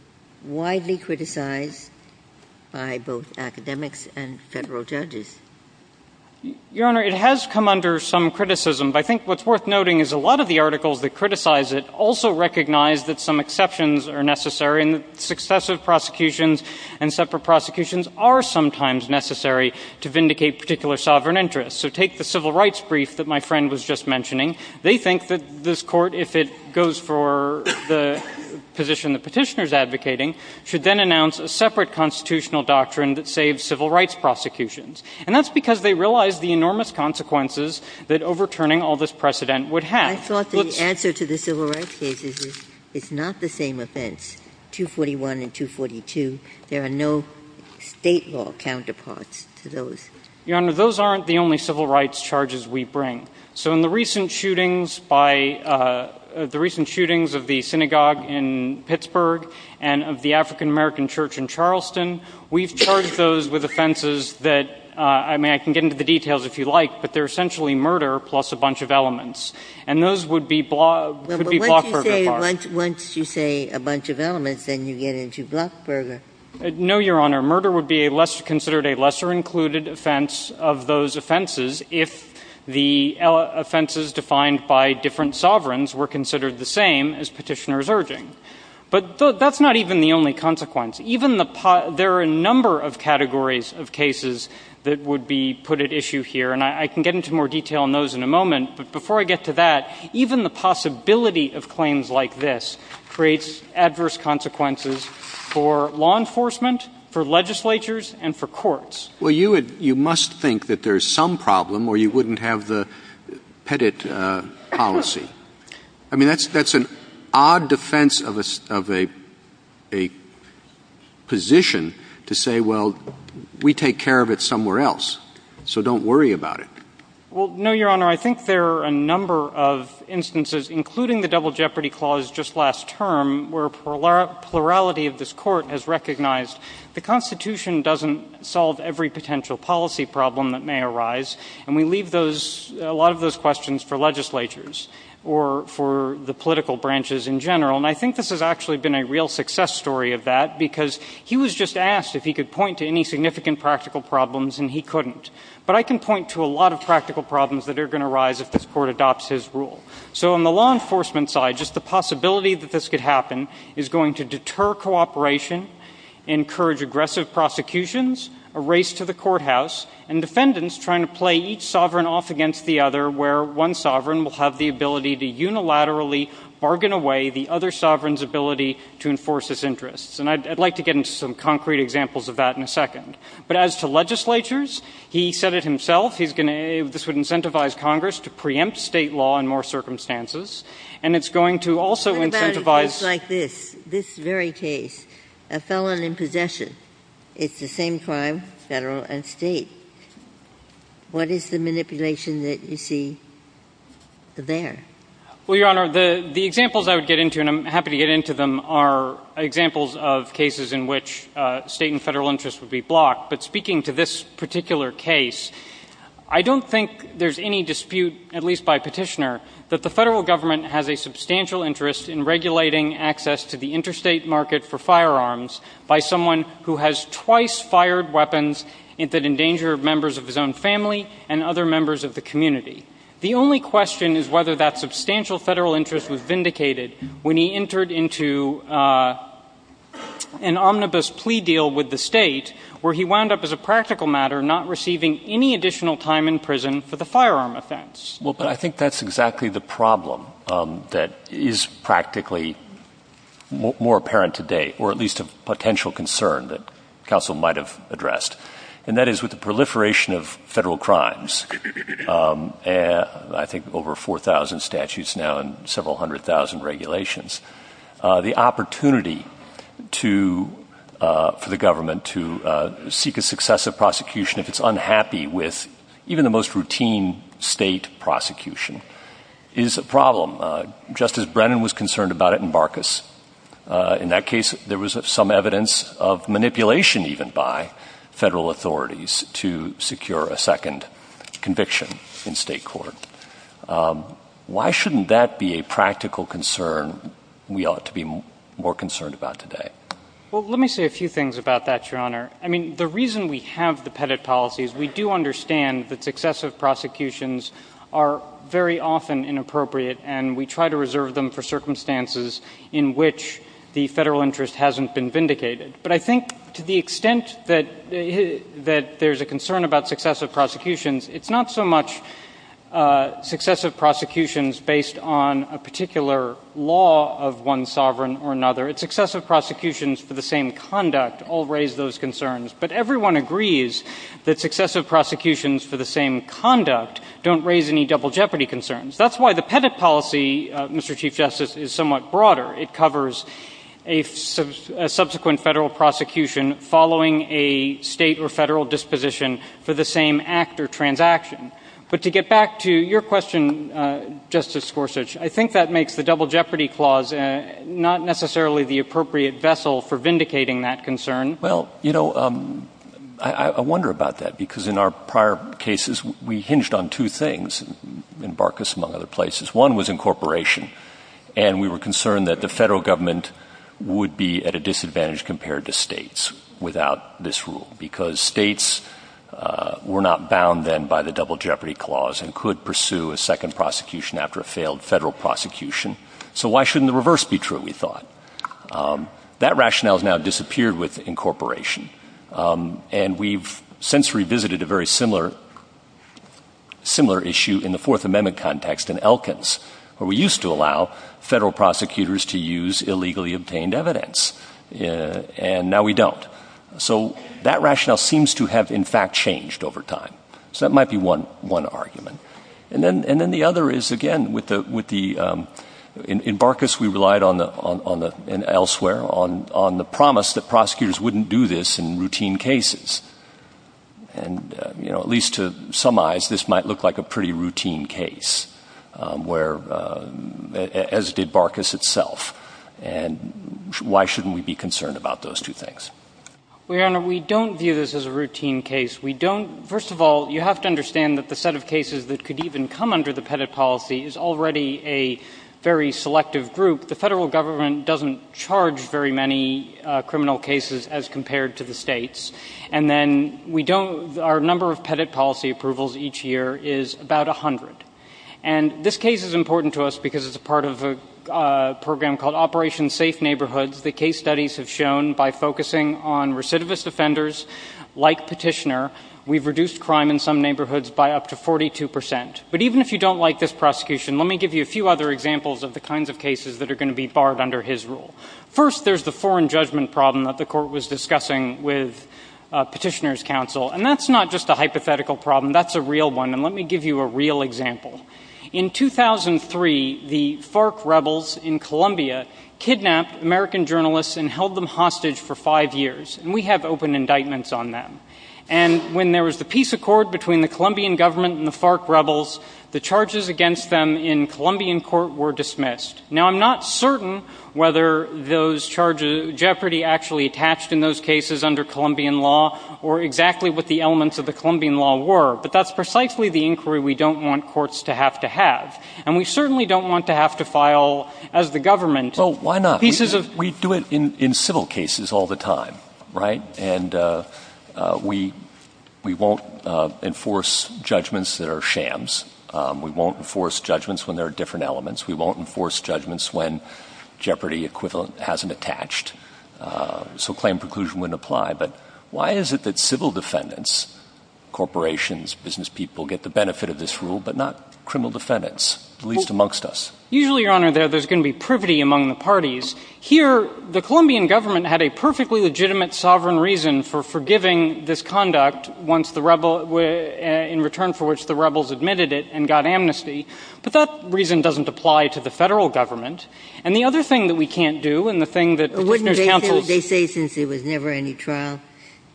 widely criticized by both academics and federal judges? Your Honor, it has come under some criticism, but I think what's worth noting is a lot of the articles that criticize it also recognize that some exceptions are necessary, and that successive prosecutions and separate prosecutions are sometimes necessary to vindicate particular sovereign interests. So take the civil rights brief that my friend was just mentioning. They think that this Court, if it goes for the position the Petitioner is advocating, should then announce a separate constitutional doctrine that saves civil rights prosecutions. And that's because they realize the enormous consequences that overturning all this precedent would have. I thought the answer to the civil rights cases is it's not the same offense, 241 and 242. There are no state law counterparts to those. Your Honor, those aren't the only civil rights charges we bring. So in the recent shootings of the synagogue in Pittsburgh and of the African-American church in Charleston, we've charged those with offenses that, I mean, I can get into the details if you'd like, but they're essentially murder plus a bunch of elements. And those would be Blockburger. Once you say a bunch of elements, then you get into Blockburger. No, Your Honor. Murder would be considered a lesser-included offense of those offenses if the offenses defined by different sovereigns were considered the same as Petitioner's urging. But that's not even the only consequence. There are a number of categories of cases that would be put at issue here, and I can get into more detail on those in a moment. But before I get to that, even the possibility of claims like this creates adverse consequences for law enforcement, for legislatures, and for courts. Well, you must think that there's some problem or you wouldn't have the Pettit policy. I mean, that's an odd defense of a position to say, well, we take care of it somewhere else, so don't worry about it. Well, no, Your Honor. I think there are a number of instances, including the double jeopardy clause just last term, where plurality of this court has recognized the Constitution doesn't solve every potential policy problem that may arise, and we leave a lot of those questions for legislatures. Or for the political branches in general. And I think this has actually been a real success story of that, because he was just asked if he could point to any significant practical problems, and he couldn't. But I can point to a lot of practical problems that are going to arise if this court adopts his rule. So on the law enforcement side, just the possibility that this could happen is going to deter cooperation, encourage aggressive prosecutions, a race to the courthouse, and defendants trying to play each sovereign off against the other, where one sovereign will have the ability to unilaterally bargain away the other sovereign's ability to enforce his interests. And I'd like to get into some concrete examples of that in a second. But as to legislatures, he said it himself, this would incentivize Congress to preempt state law in more circumstances, and it's going to also incentivize... What about a case like this? This very case. A felon in possession. It's the same crime, federal and state. What is the manipulation that you see there? Well, Your Honor, the examples I would get into, and I'm happy to get into them, are examples of cases in which state and federal interests would be blocked. But speaking to this particular case, I don't think there's any dispute, at least by petitioner, that the federal government has a substantial interest in regulating access to the interstate market for firearms by someone who has twice fired weapons that endanger members of his own family and other members of the community. The only question is whether that substantial federal interest was vindicated when he entered into an omnibus plea deal with the state, where he wound up, as a practical matter, not receiving any additional time in prison for the firearm offense. Well, I think that's exactly the problem that is practically more apparent today, or at least a potential concern that counsel might have addressed. And that is with the proliferation of federal crimes, I think over 4,000 statutes now and several hundred thousand regulations, the opportunity for the government to seek a successive prosecution if it's unhappy with even the most routine state prosecution is a problem. Justice Brennan was concerned about it in Marcus. In that case, there was some evidence of manipulation even by federal authorities to secure a second conviction in state court. Why shouldn't that be a practical concern we ought to be more concerned about today? Well, let me say a few things about that, Your Honor. I mean, the reason we have the Pettit policies, we do understand that successive prosecutions are very often inappropriate, and we try to reserve them for circumstances in which the federal interest hasn't been vindicated. But I think to the extent that there's a concern about successive prosecutions, it's not so much successive prosecutions based on a particular law of one sovereign or another. Successive prosecutions for the same conduct all raise those concerns. But everyone agrees that successive prosecutions for the same conduct don't raise any double jeopardy concerns. That's why the Pettit policy, Mr. Chief Justice, is somewhat broader. It covers a subsequent federal prosecution following a state or federal disposition for the same act or transaction. But to get back to your question, Justice Gorsuch, I think that makes the double jeopardy clause not necessarily the appropriate vessel for vindicating that concern. Well, you know, I wonder about that, because in our prior cases, we hinged on two things, in Barkas, among other places. One was incorporation, and we were concerned that the federal government would be at a disadvantage compared to states without this rule, because states were not bound then by the double jeopardy clause and could pursue a second prosecution after a failed federal prosecution. So why shouldn't the reverse be true, we thought? That rationale has now disappeared with incorporation, and we've since revisited a very similar issue in the Fourth Amendment context in Elkins, where we used to allow federal prosecutors to use illegally obtained evidence, and now we don't. So that rationale seems to have, in fact, changed over time. So that might be one argument. And then the other is, again, in Barkas, we relied elsewhere on the promise that prosecutors wouldn't do this in routine cases. And, you know, at least to some eyes, this might look like a pretty routine case, as did Barkas itself. And why shouldn't we be concerned about those two things? Well, Your Honor, we don't view this as a routine case. First of all, you have to understand that the set of cases that could even come under the Pettit policy is already a very selective group. The federal government doesn't charge very many criminal cases as compared to the states, and then our number of Pettit policy approvals each year is about 100. And this case is important to us because it's a part of a program called Operation Safe Neighborhoods. The case studies have shown by focusing on recidivist offenders like Petitioner, we've reduced crime in some neighborhoods by up to 42 percent. But even if you don't like this prosecution, let me give you a few other examples of the kinds of cases that are going to be barred under his rule. First, there's the foreign judgment problem that the court was discussing with Petitioner's counsel, and that's not just a hypothetical problem. That's a real one, and let me give you a real example. In 2003, the FARC rebels in Colombia kidnapped American journalists and held them hostage for five years. And we have open indictments on that. And when there was the peace accord between the Colombian government and the FARC rebels, the charges against them in Colombian court were dismissed. Now, I'm not certain whether those charges, jeopardy actually attached in those cases under Colombian law or exactly what the elements of the Colombian law were, but that's precisely the inquiry we don't want courts to have to have. And we certainly don't want to have to file as the government. Well, why not? We do it in civil cases all the time, right? And we won't enforce judgments that are shams. We won't enforce judgments when there are different elements. We won't enforce judgments when jeopardy hasn't attached. So claim preclusion wouldn't apply. But why is it that civil defendants, corporations, business people, get the benefit of this rule but not criminal defendants, at least amongst us? Usually, Your Honor, there's going to be privity among the parties. Here, the Colombian government had a perfectly legitimate sovereign reason for forgiving this conduct in return for which the rebels admitted it and got amnesty. But that reason doesn't apply to the federal government. And the other thing that we can't do, and the thing that witness counsels... Wouldn't they say since there was never any trial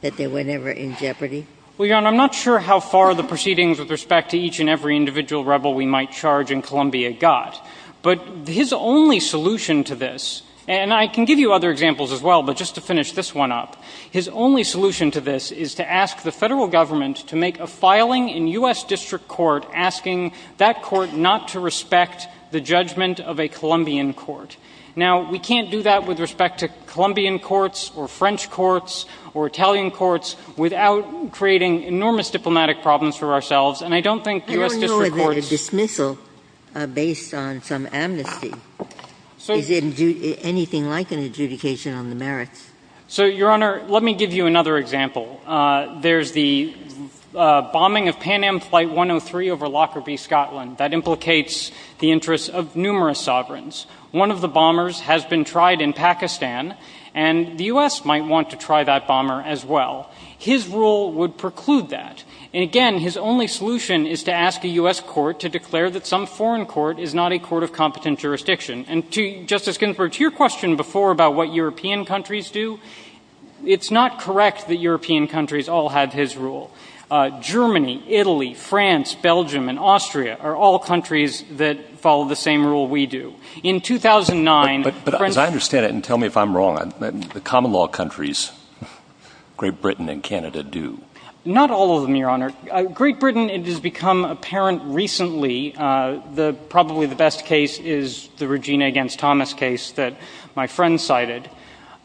that they were never in jeopardy? Well, Your Honor, I'm not sure how far the proceedings with respect to each and every individual rebel we might charge in Colombia got. But his only solution to this, and I can give you other examples as well, but just to finish this one up, his only solution to this is to ask the federal government to make a filing in U.S. District Court asking that court not to respect the judgment of a Colombian court. Now, we can't do that with respect to Colombian courts or French courts or Italian courts without creating enormous diplomatic problems for ourselves. And I don't think U.S. District Courts... Your Honor, is it a dismissal based on some amnesty? Is it anything like an adjudication on the merits? So, Your Honor, let me give you another example. There's the bombing of Pan Am Flight 103 over Lockerbie, Scotland that implicates the interests of numerous sovereigns. One of the bombers has been tried in Pakistan, and the U.S. might want to try that bomber as well. His rule would preclude that. And again, his only solution is to ask a U.S. court to declare that some foreign court is not a court of competent jurisdiction. And Justice Ginsburg, to your question before about what European countries do, it's not correct that European countries all have his rule. Germany, Italy, France, Belgium, and Austria are all countries that follow the same rule we do. In 2009... But as I understand it, and tell me if I'm wrong, the common law countries, Great Britain and Canada, do. Not all of them, Your Honor. Great Britain, it has become apparent recently that probably the best case is the Regina against Thomas case that my friend cited.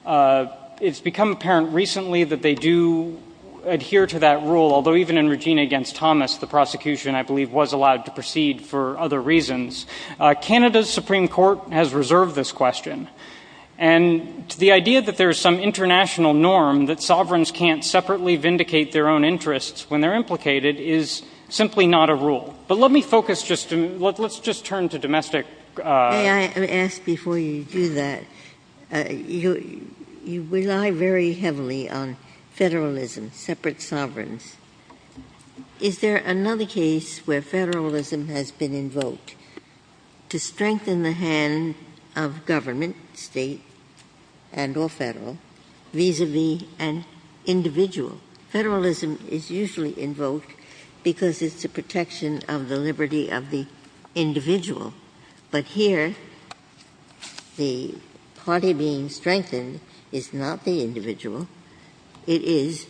It's become apparent recently that they do adhere to that rule, although even in Regina against Thomas, the prosecution, I believe, was allowed to proceed for other reasons. Canada's Supreme Court has reserved this question. And the idea that there's some international norm that sovereigns can't separately vindicate their own interests when they're implicated is simply not a rule. But let me focus just on... let's just turn to domestic... May I ask before you do that, you rely very heavily on federalism, separate sovereigns. Is there another case where federalism has been invoked to strengthen the hand of government, state and or federal, vis-a-vis an individual? Federalism is usually invoked because it's the protection of the liberty of the individual. But here, the party being strengthened is not the individual. It is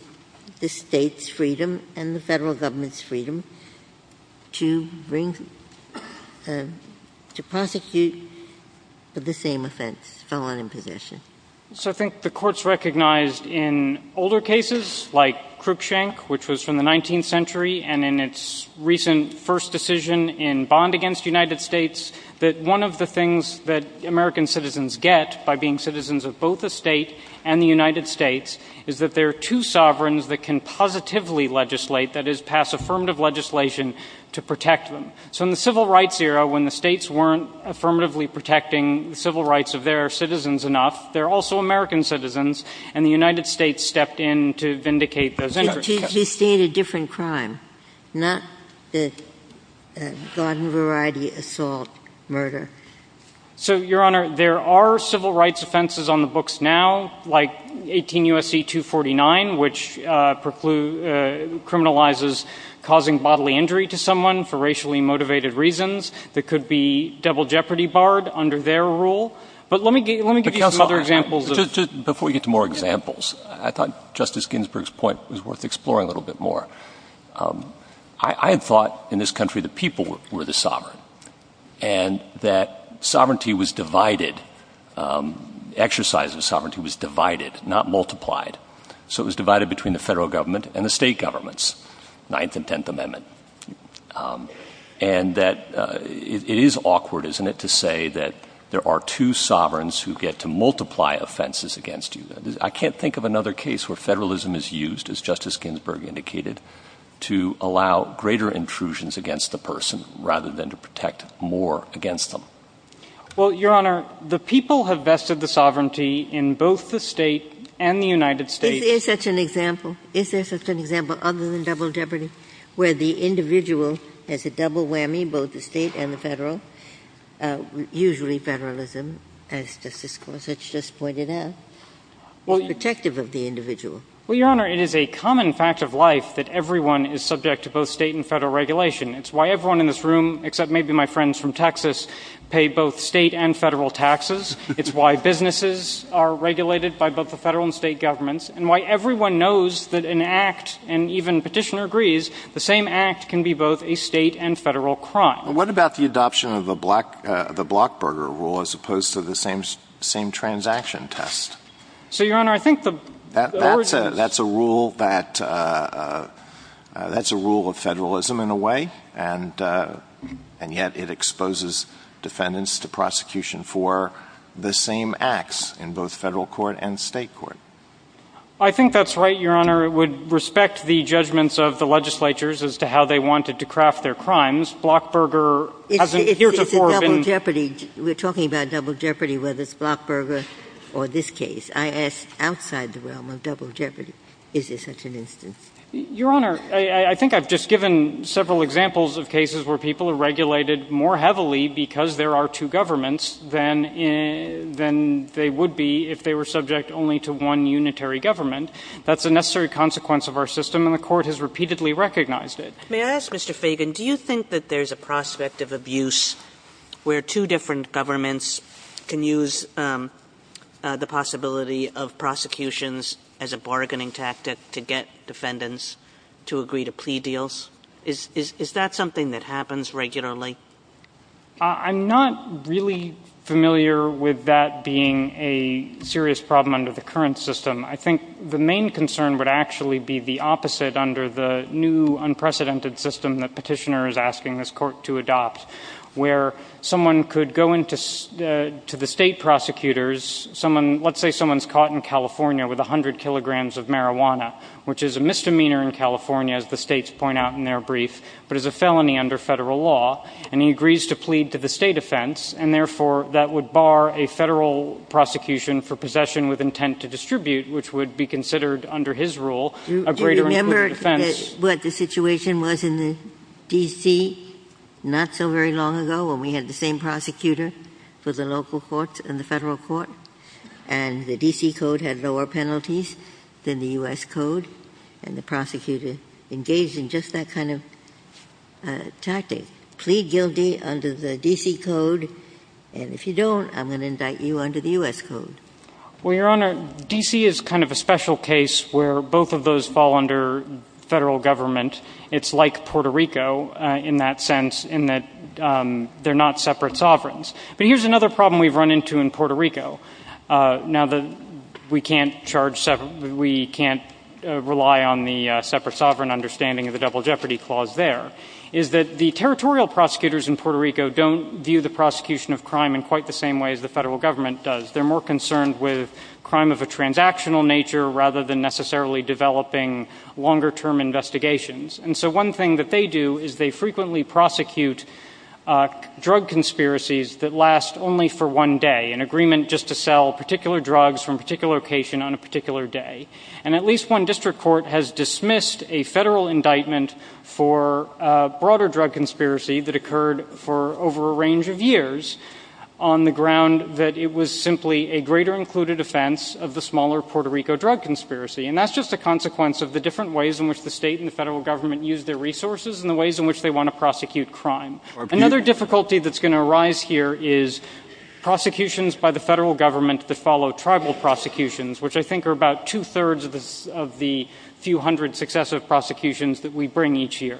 the state's freedom and the federal government's freedom to bring... to prosecute for the same offense, so on and so forth. So I think the court's recognized in older cases, like Krupschank, which was from the 19th century, and in its recent first decision in Bond against United States, that one of the things that American citizens get by being citizens of both the state and the United States is that there are two sovereigns that can positively legislate, that is, pass affirmative legislation to protect them. So in the civil rights era, when the states weren't affirmatively protecting civil rights of their citizens enough, they're also American citizens, and the United States stepped in to vindicate those interests. You've seen a different crime, not this broad variety assault, murder. So, Your Honor, there are civil rights offenses on the books now, like 18 U.S.C. 249, which criminalizes causing bodily injury to someone for racially motivated reasons. It could be double jeopardy barred under their rule. But let me give you some other examples. Just before we get to more examples, I thought Justice Ginsburg's point was worth exploring a little bit more. I thought in this country the people were the sovereign, and that sovereignty was divided, exercise of sovereignty was divided, not multiplied. So it was divided between the federal government and the state governments, Ninth and Tenth Amendment. And that it is awkward, isn't it, to say that there are two sovereigns who get to multiply offenses against you. I can't think of another case where federalism is used, as Justice Ginsburg indicated, to allow greater intrusions against the person rather than to protect more against them. Well, Your Honor, the people have vested the sovereignty in both the state and the United States. Is there such an example? Is there such an example other than double jeopardy where the individual has a double whammy, both the state and the federal, usually federalism, as Justice Gorsuch just pointed out, or protective of the individual? Well, Your Honor, it is a common fact of life that everyone is subject to both state and federal regulation. It's why everyone in this room, except maybe my friends from Texas, pay both state and federal taxes. It's why businesses are regulated by both the federal and state governments, and why everyone knows that an act, and even Petitioner agrees, the same act can be both a state and federal crime. What about the adoption of the Blockburger Rule as opposed to the same transaction test? So, Your Honor, I think the… That's a rule of federalism in a way, and yet it exposes defendants to prosecution for the same acts in both federal court and state court. I think that's right, Your Honor. It would respect the judgments of the legislatures as to how they wanted to craft their crimes. Blockburger… It's a double jeopardy. We're talking about double jeopardy, whether it's Blockburger or this case. I ask outside the realm of double jeopardy. Is this a solution? Your Honor, I think I've just given several examples of cases where people are regulated more heavily because there are two governments than they would be if they were subject only to one unitary government. That's a necessary consequence of our system, and the Court has repeatedly recognized it. May I ask, Mr. Fagan, do you think that there's a prospect of abuse where two different governments can use the possibility of prosecutions as a bargaining tactic to get defendants to agree to plea deals? Is that something that happens regularly? I'm not really familiar with that being a serious problem under the current system. I think the main concern would actually be the opposite under the new unprecedented system that Petitioner is asking this Court to adopt, where someone could go into the state prosecutors, let's say someone's caught in California with 100 kilograms of marijuana, which is a misdemeanor in California, as the states point out in their brief, but is a felony under federal law, and he agrees to plead to the state offense, and therefore that would bar a federal prosecution for possession with intent to distribute, which would be considered, under his rule, a greater incumbent offense. Do you remember what the situation was in D.C. not so very long ago when we had the same prosecutor for the local courts and the federal court, and the D.C. Code had lower penalties than the U.S. Code, and the prosecutor engaged in just that kind of tactic, plead guilty under the D.C. Code, and if you don't, I'm going to indict you under the U.S. Code. Well, Your Honor, D.C. is kind of a special case where both of those fall under federal government. It's like Puerto Rico in that sense, in that they're not separate sovereigns. But here's another problem we've run into in Puerto Rico, now that we can't rely on the separate sovereign understanding of the Double Jeopardy Clause there, is that the territorial prosecutors in Puerto Rico don't view the prosecution of crime in quite the same way as the federal government does. They're more concerned with crime of a transactional nature rather than necessarily developing longer-term investigations. And so one thing that they do is they frequently prosecute drug conspiracies that last only for one day, an agreement just to sell particular drugs from a particular location on a particular day. And at least one district court has dismissed a federal indictment for a broader drug conspiracy that occurred for over a range of years on the ground that it was simply a greater-included offense of the smaller Puerto Rico drug conspiracy. And that's just a consequence of the different ways in which the state and the federal government use their resources and the ways in which they want to prosecute crime. Another difficulty that's going to arise here is prosecutions by the federal government that follow tribal prosecutions, which I think are about two-thirds of the few hundred successive prosecutions that we bring each year.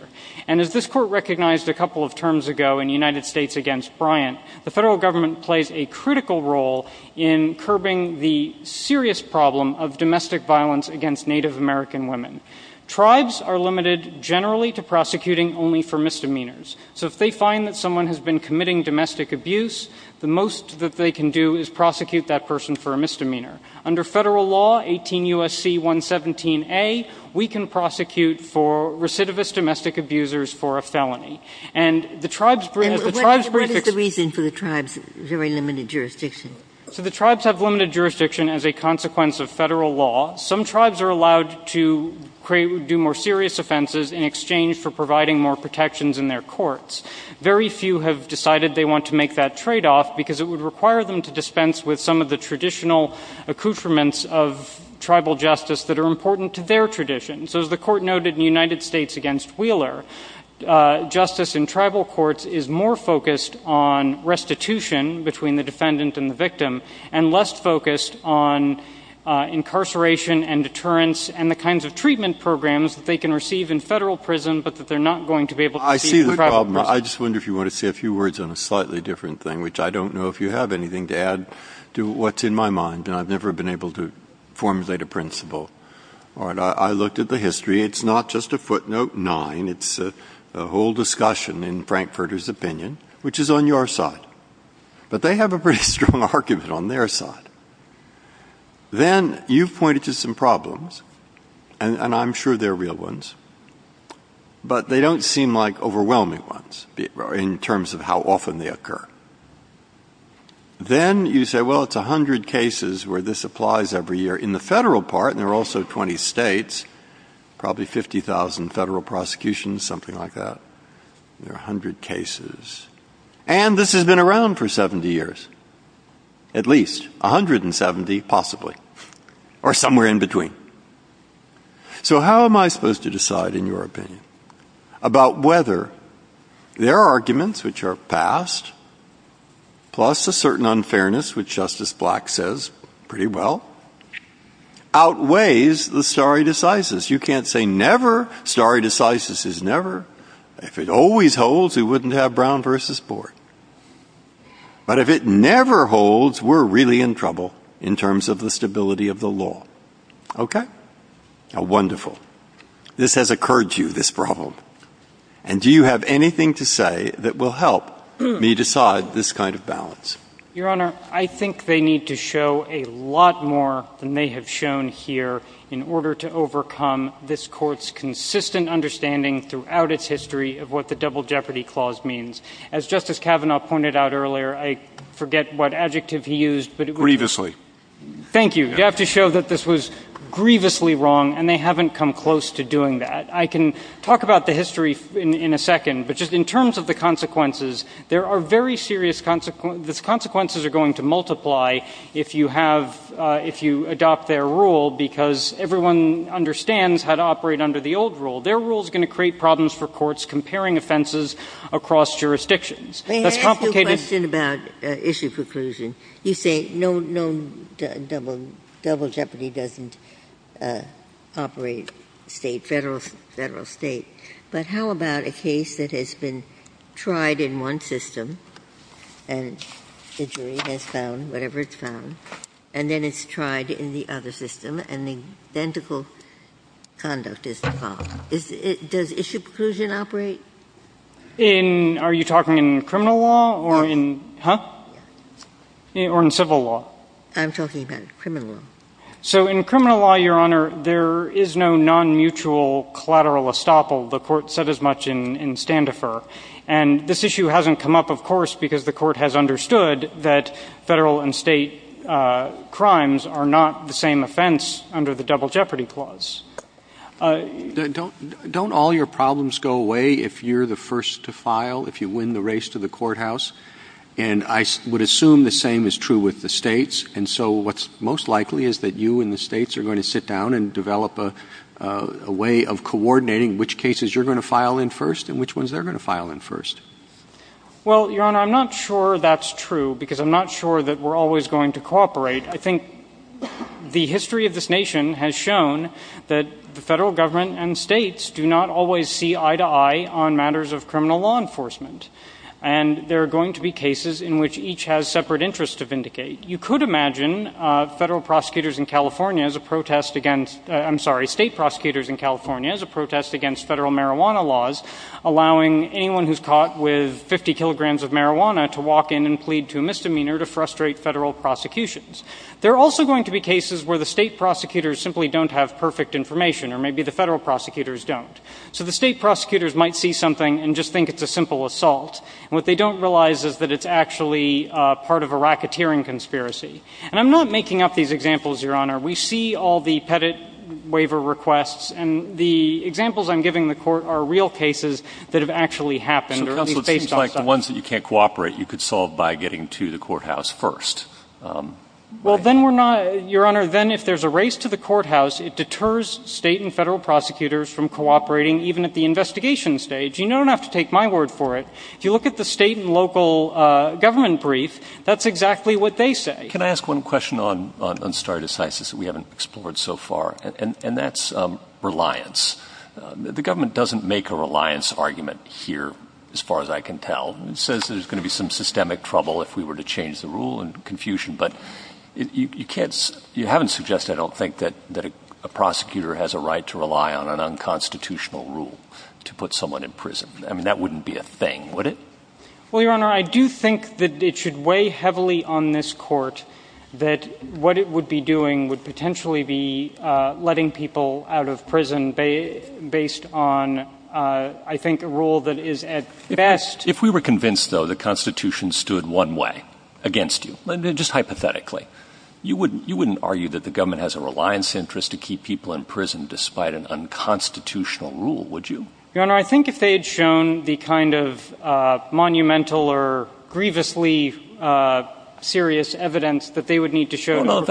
And as this court recognized a couple of terms ago in the United States against Bryant, the federal government plays a critical role in curbing the serious problem of domestic violence against Native American women. Tribes are limited generally to prosecuting only for misdemeanors. So if they find that someone has been committing domestic abuse, the most that they can do is prosecute that person for a misdemeanor. Under federal law, 18 U.S.C. 117a, we can prosecute for recidivist domestic abusers for a felony. And the tribes bring... What is the reason for the tribes' very limited jurisdiction? So the tribes have limited jurisdiction as a consequence of federal law. Some tribes are allowed to do more serious offenses in exchange for providing more protections in their courts. Very few have decided they want to make that tradeoff because it would require them to dispense with some of the traditional accoutrements of tribal justice that are important to their tradition. So as the court noted in the United States against Wheeler, justice in tribal courts is more focused on restitution between the defendant and the victim and less focused on incarceration and deterrence and the kinds of treatment programs that they can receive in federal prison but that they're not going to be able to receive in private prison. I just wonder if you want to say a few words on a slightly different thing, which I don't know if you have anything to add to what's in my mind, and I've never been able to formulate a principle. I looked at the history. It's not just a footnote nine. It's a whole discussion in Frankfurter's opinion, which is on your side. But they have a pretty strong argument on their side. Then you've pointed to some problems, and I'm sure they're real ones, but they don't seem like overwhelming ones in terms of how often they occur. Then you say, well, it's 100 cases where this applies every year in the federal part, and there are also 20 states, probably 50,000 federal prosecutions, something like that. There are 100 cases. And this has been around for 70 years, at least, 170 possibly, or somewhere in between. So how am I supposed to decide, in your opinion, about whether their arguments, which are passed, plus a certain unfairness, which Justice Black says pretty well, outweighs the stare decisis. You can't say never. Stare decisis is never. If it always holds, we wouldn't have Brown v. Board. But if it never holds, we're really in trouble in terms of the stability of the law. Okay? Wonderful. This has occurred to you, this problem. And do you have anything to say that will help me decide this kind of balance? Your Honor, I think they need to show a lot more than they have shown here in order to overcome this Court's consistent understanding throughout its history of what the Double Jeopardy Clause means. As Justice Kavanaugh pointed out earlier, I forget what adjective he used, but it was... Grievously. Thank you. You have to show that this was grievously wrong, and they haven't come close to doing that. I can talk about the history in a second, but just in terms of the consequences, there are very serious consequences. The consequences are going to multiply if you adopt their rule because everyone understands how to operate under the old rule. Their rule is going to create problems for courts comparing offenses across jurisdictions. May I ask you a question about issue preclusion? You say no Double Jeopardy doesn't operate state, federal state, but how about a case that has been tried in one system and the jury has found whatever it found, and then it's tried in the other system, and the identical conduct is the problem. Does issue preclusion operate? Are you talking in criminal law or in civil law? I'm talking about criminal law. So in criminal law, Your Honor, there is no non-mutual collateral estoppel. The Court said as much in Standefer. And this issue hasn't come up, of course, because the Court has understood that federal and state crimes are not the same offense under the Double Jeopardy Clause. Don't all your problems go away if you're the first to file, if you win the race to the courthouse? And I would assume the same is true with the states, and so what's most likely is that you and the states are going to sit down and develop a way of coordinating which cases you're going to file in first and which ones they're going to file in first. Well, Your Honor, I'm not sure that's true because I'm not sure that we're always going to cooperate. I think the history of this nation has shown that the federal government and states do not always see eye-to-eye on matters of criminal law enforcement, and there are going to be cases in which each has separate interests to vindicate. You could imagine federal prosecutors in California as a protest against... I'm sorry, state prosecutors in California as a protest against federal marijuana laws, allowing anyone who's caught with 50 kilograms of marijuana to walk in and plead to a misdemeanor to frustrate federal prosecutions. There are also going to be cases where the state prosecutors simply don't have perfect information, or maybe the federal prosecutors don't. So the state prosecutors might see something and just think it's a simple assault, and what they don't realize is that it's actually part of a racketeering conspiracy. And I'm not making up these examples, Your Honor. We see all the Pettit waiver requests, and the examples I'm giving the Court are real cases that have actually happened, or at least based on... So it seems like the ones that you can't cooperate, you could solve by getting to the courthouse first. Well, then we're not... Your Honor, then if there's a race to the courthouse, it deters state and federal prosecutors from cooperating even at the investigation stage. You don't have to take my word for it. If you look at the state and local government brief, that's exactly what they say. Can I ask one question on stare decisis that we haven't explored so far? And that's reliance. The government doesn't make a reliance argument here, as far as I can tell. It says there's going to be some systemic trouble if we were to change the rule, and confusion. But you haven't suggested, I don't think, that a prosecutor has a right to rely on an unconstitutional rule to put someone in prison. I mean, that wouldn't be a thing, would it? Well, Your Honor, I do think that it should weigh heavily on this Court that what it would be doing would potentially be letting people out of prison based on, I think, a rule that is at best... Just hypothetically. You wouldn't argue that the government has a reliance interest to keep people in prison despite an unconstitutional rule, would you? Your Honor, I think if they'd shown the kind of monumental or grievously serious evidence that they would need to show... Let's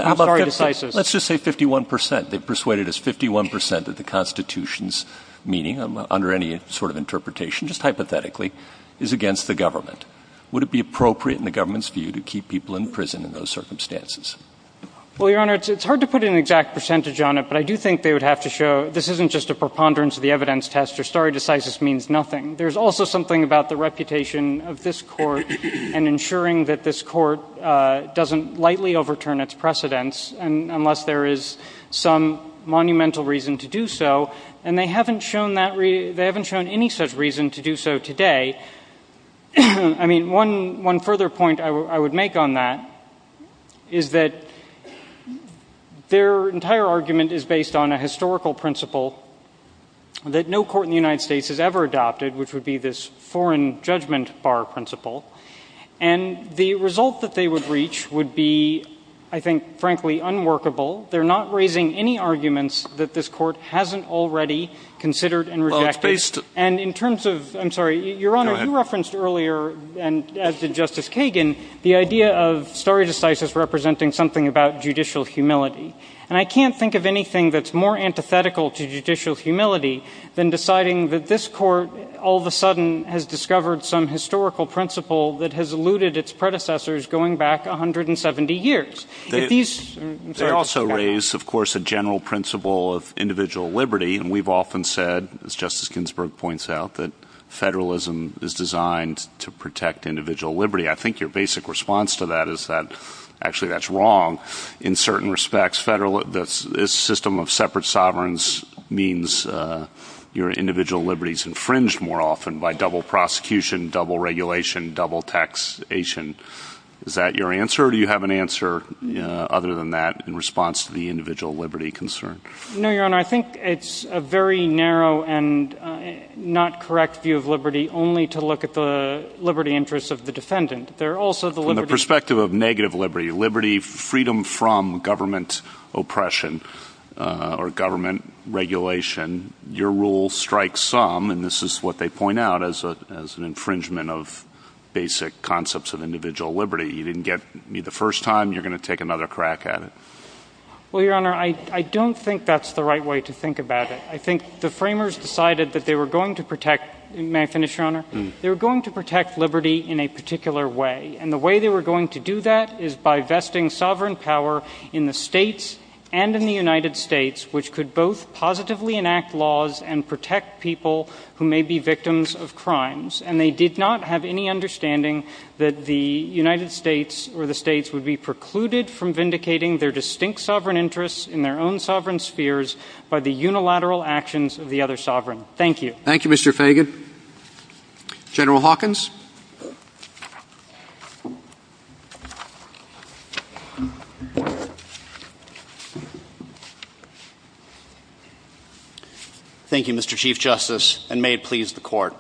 just say 51%. They've persuaded us 51% of the Constitution's meaning, under any sort of interpretation, just hypothetically, is against the government. Would it be appropriate in the government's view to keep people in prison in those circumstances? Well, Your Honor, it's hard to put an exact percentage on it, but I do think they would have to show this isn't just a preponderance of the evidence test or stare decisis means nothing. There's also something about the reputation of this Court and ensuring that this Court doesn't lightly overturn its precedents unless there is some monumental reason to do so. And they haven't shown any such reason to do so today. I mean, one further point I would make on that is that their entire argument is based on a historical principle that no court in the United States has ever adopted, which would be this foreign judgment bar principle. And the result that they would reach would be, I think, frankly, unworkable. They're not raising any arguments that this Court hasn't already considered and rejected. And in terms of... I'm sorry. Your Honor, you referenced earlier, as did Justice Kagan, the idea of stare decisis representing something about judicial humility. And I can't think of anything that's more antithetical to judicial humility than deciding that this Court all of a sudden has discovered some historical principle that has eluded its predecessors going back 170 years. They also raise, of course, a general principle of individual liberty, and we've often said, as Justice Ginsburg points out, that federalism is designed to protect individual liberty. I think your basic response to that is that actually that's wrong. In certain respects, this system of separate sovereigns means your individual liberty is infringed more often by double prosecution, double regulation, double taxation. Is that your answer, or do you have an answer other than that in response to the individual liberty concern? No, Your Honor. I think it's a very narrow and not correct view of liberty only to look at the liberty interests of the defendant. They're also the liberty... From the perspective of negative liberty, liberty, freedom from government oppression or government regulation, your rule strikes some, and this is what they point out, as an infringement of basic concepts of individual liberty. You didn't get me the first time. You're going to take another crack at it. Well, Your Honor, I don't think that's the right way to think about it. I think the framers decided that they were going to protect... May I finish, Your Honor? They were going to protect liberty in a particular way, and the way they were going to do that is by vesting sovereign power in the states and in the United States, which could both positively enact laws and protect people who may be victims of crimes. And they did not have any understanding that the United States or the states would be precluded from vindicating their distinct sovereign interests in their own sovereign spheres by the unilateral actions of the other sovereign. Thank you. Thank you, Mr. Fagan. General Hawkins? Thank you, Mr. Chief Justice, and may it please the Court.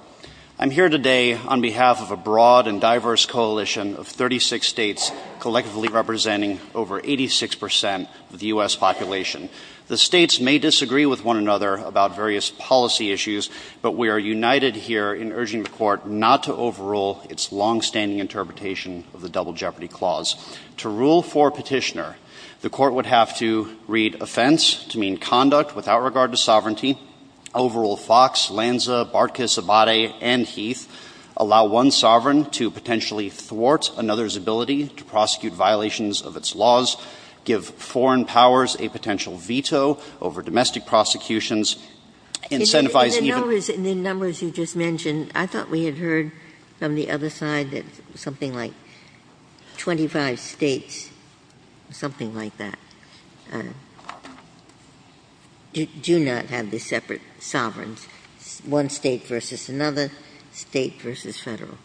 I'm here today on behalf of a broad and diverse coalition of 36 states collectively representing over 86% of the U.S. population. The states may disagree with one another about various policy issues, but we are united here in urging the Court not to overrule its longstanding interpretation of the Double Jeopardy Clause. To rule for petitioner, the Court would have to read offense to mean conduct without regard to sovereignty, overrule Fox, Lanza, Barkas, Abate, and Heath, allow one sovereign to potentially thwart another's ability to prosecute violations of its laws, give foreign powers a potential veto over domestic prosecutions, incentivize even— In the numbers you just mentioned, I thought we had heard from the other side that something like 25 states, something like that, do not have these separate sovereigns. One state versus another, state versus federal.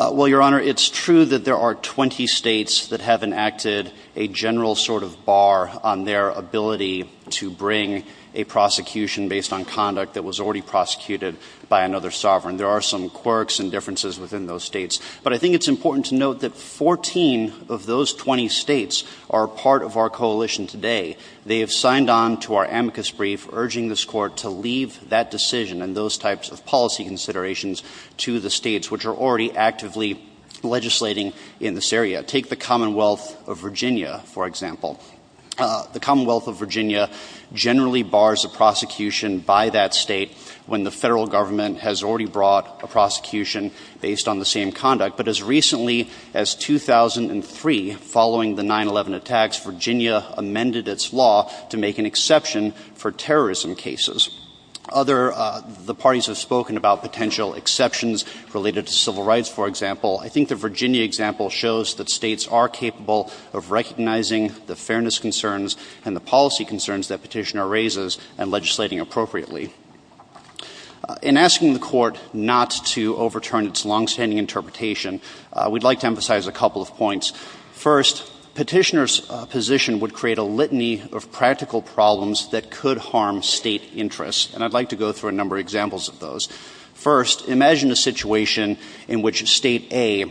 Well, Your Honor, it's true that there are 20 states that have enacted a general sort of bar on their ability to bring a prosecution based on conduct that was already prosecuted by another sovereign. There are some quirks and differences within those states, but I think it's important to note that 14 of those 20 states are part of our coalition today. They have signed on to our amicus brief, urging this Court to leave that decision and those types of policy considerations to the states, which are already actively legislating in this area. Take the Commonwealth of Virginia, for example. The Commonwealth of Virginia generally bars a prosecution by that state when the federal government has already brought a prosecution based on the same conduct. But as recently as 2003, following the 9-11 attacks, Virginia amended its law to make an exception for terrorism cases. Other parties have spoken about potential exceptions related to civil rights, for example. I think the Virginia example shows that states are capable of recognizing the fairness concerns and the policy concerns that Petitioner raises and legislating appropriately. In asking the Court not to overturn its longstanding interpretation, we'd like to emphasize a couple of points. First, Petitioner's position would create a litany of practical problems that could harm state interests, and I'd like to go through a number of examples of those. First, imagine a situation in which State A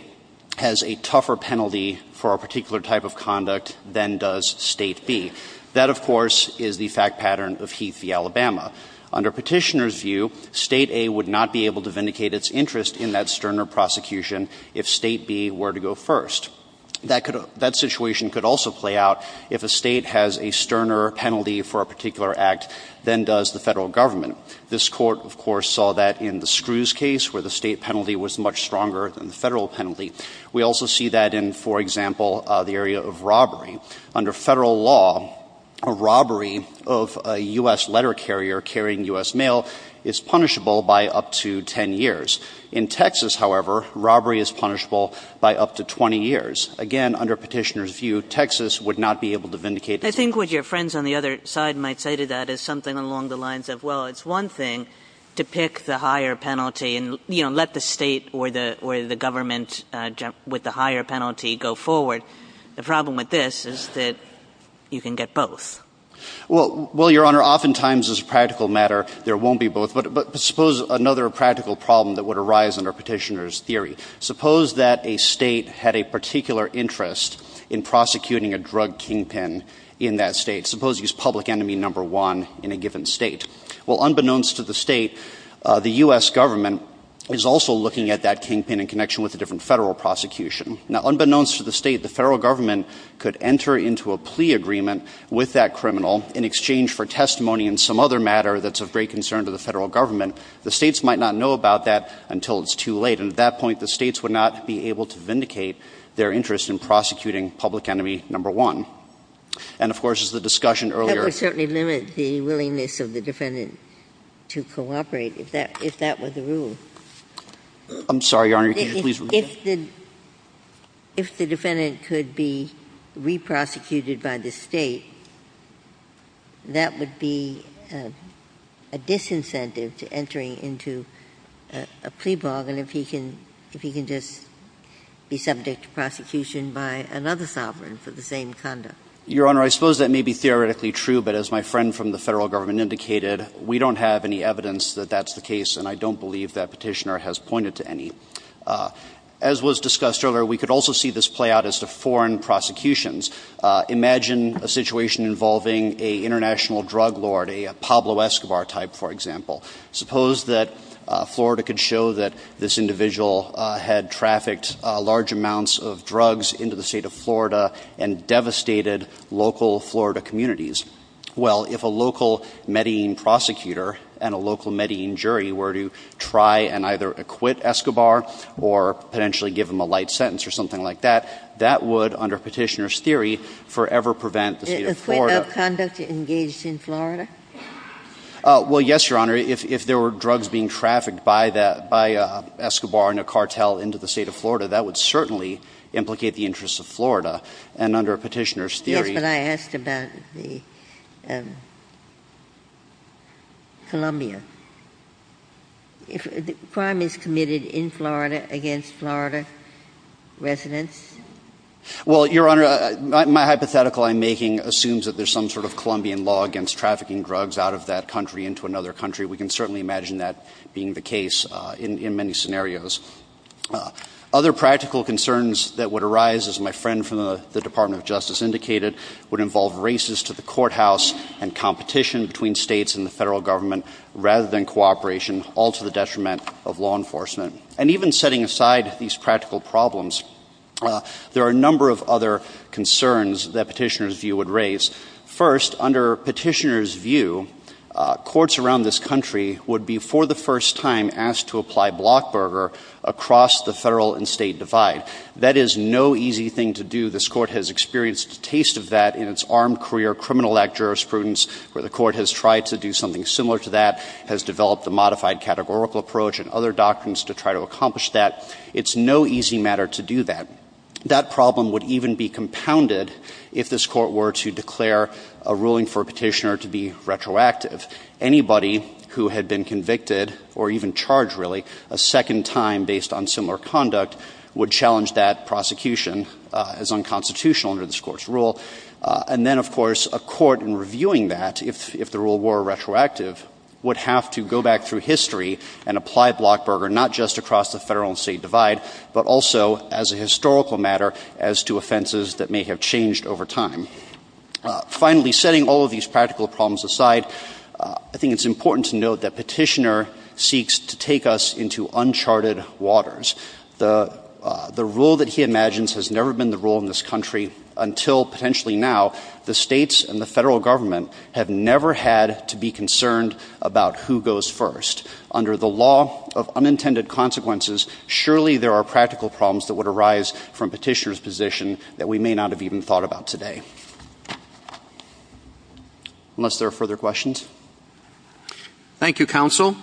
has a tougher penalty for a particular type of conduct than does State B. That, of course, is the fact pattern of Heath v. Alabama. Under Petitioner's view, State A would not be able to vindicate its interest in that sterner prosecution if State B were to go first. That situation could also play out if a state has a sterner penalty for a particular act than does the federal government. This Court, of course, saw that in the Screws case, where the state penalty was much stronger than the federal penalty. We also see that in, for example, the area of robbery. Under federal law, a robbery of a U.S. letter carrier carrying U.S. mail is punishable by up to 10 years. In Texas, however, robbery is punishable by up to 20 years. Again, under Petitioner's view, Texas would not be able to vindicate its interest. I think what your friends on the other side might say to that is something along the lines of, well, it's one thing to pick the higher penalty and let the state or the government with the higher penalty go forward. The problem with this is that you can get both. Well, Your Honor, oftentimes, as a practical matter, there won't be both. But suppose another practical problem that would arise under Petitioner's theory. Suppose that a state had a particular interest in prosecuting a drug kingpin in that state. Suppose he's public enemy number one in a given state. Well, unbeknownst to the state, the U.S. government is also looking at that kingpin in connection with a different federal prosecution. Now, unbeknownst to the state, the federal government could enter into a plea agreement with that criminal in exchange for testimony in some other matter that's of great concern to the federal government. The states might not know about that until it's too late. And at that point, the states would not be able to vindicate their interest in prosecuting public enemy number one. And, of course, as the discussion earlier – That would certainly limit the willingness of the defendant to cooperate, if that was the rule. I'm sorry, Your Honor. If the defendant could be re-prosecuted by the state, that would be a disincentive to entering into a plea bargain if he can just be subject to prosecution by another sovereign for the same conduct. Your Honor, I suppose that may be theoretically true. But as my friend from the federal government indicated, we don't have any evidence that that's the case. And I don't believe that petitioner has pointed to any. As was discussed earlier, we could also see this play out as to foreign prosecutions. Imagine a situation involving an international drug lord, a Pablo Escobar type, for example. Suppose that Florida could show that this individual had trafficked large amounts of drugs into the state of Florida and devastated local Florida communities. Well, if a local Medellin prosecutor and a local Medellin jury were to try and either acquit Escobar or potentially give him a light sentence or something like that, that would, under petitioner's theory, forever prevent the state of Florida. Is the state of Congress engaged in Florida? Well, yes, Your Honor. If there were drugs being trafficked by Escobar and a cartel into the state of Florida, that would certainly implicate the interests of Florida. And under petitioner's theory – Yes, but I asked about the Columbia. If a crime is committed in Florida against Florida residents? Well, Your Honor, my hypothetical I'm making assumes that there's some sort of Colombian law against trafficking drugs out of that country into another country. We can certainly imagine that being the case in many scenarios. Other practical concerns that would arise, as my friend from the Department of Justice indicated, would involve races to the courthouse and competition between states and the federal government rather than cooperation, all to the detriment of law enforcement. And even setting aside these practical problems, there are a number of other concerns that petitioner's view would raise. First, under petitioner's view, courts around this country would be, for the first time, asked to apply Blockberger across the federal and state divide. That is no easy thing to do. This Court has experienced a taste of that in its armed career criminal act jurisprudence, where the Court has tried to do something similar to that, has developed a modified categorical approach and other doctrines to try to accomplish that. It's no easy matter to do that. That problem would even be compounded if this Court were to declare a ruling for a petitioner to be retroactive. Anybody who had been convicted or even charged, really, a second time based on similar conduct would challenge that prosecution as unconstitutional under this Court's rule. And then, of course, a court, in reviewing that, if the rule were retroactive, would have to go back through history and apply Blockberger, not just across the federal and state divide, but also as a historical matter as to offenses that may have changed over time. Finally, setting all of these practical problems aside, I think it's important to note that petitioner seeks to take us into uncharted waters. The rule that he imagines has never been the rule in this country until potentially now. The states and the federal government have never had to be concerned about who goes first. Under the law of unintended consequences, surely there are practical problems that would arise from petitioner's position that we may not have even thought about today. Unless there are further questions? Thank you, Counsel.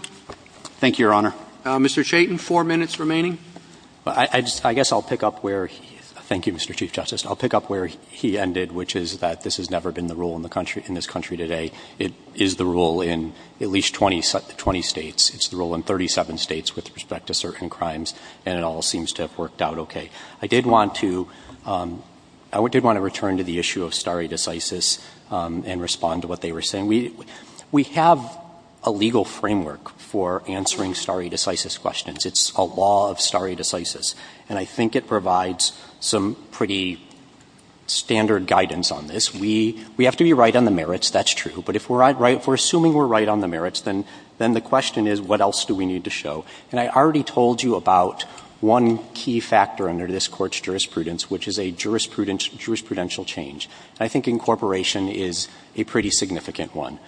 Thank you, Your Honor. Mr. Chayton, four minutes remaining. I guess I'll pick up where he — thank you, Mr. Chief Justice. I'll pick up where he ended, which is that this has never been the rule in this country today. It is the rule in at least 20 states. It's the rule in 37 states with respect to certain crimes, and it all seems to have worked out okay. I did want to return to the issue of stare decisis and respond to what they were saying. We have a legal framework for answering stare decisis questions. It's a law of stare decisis, and I think it provides some pretty standard guidance on this. We have to be right on the merits. That's true. But if we're assuming we're right on the merits, then the question is, what else do we need to show? And I already told you about one key factor under this Court's jurisprudence, which is a jurisprudential change. I think incorporation is a pretty significant one.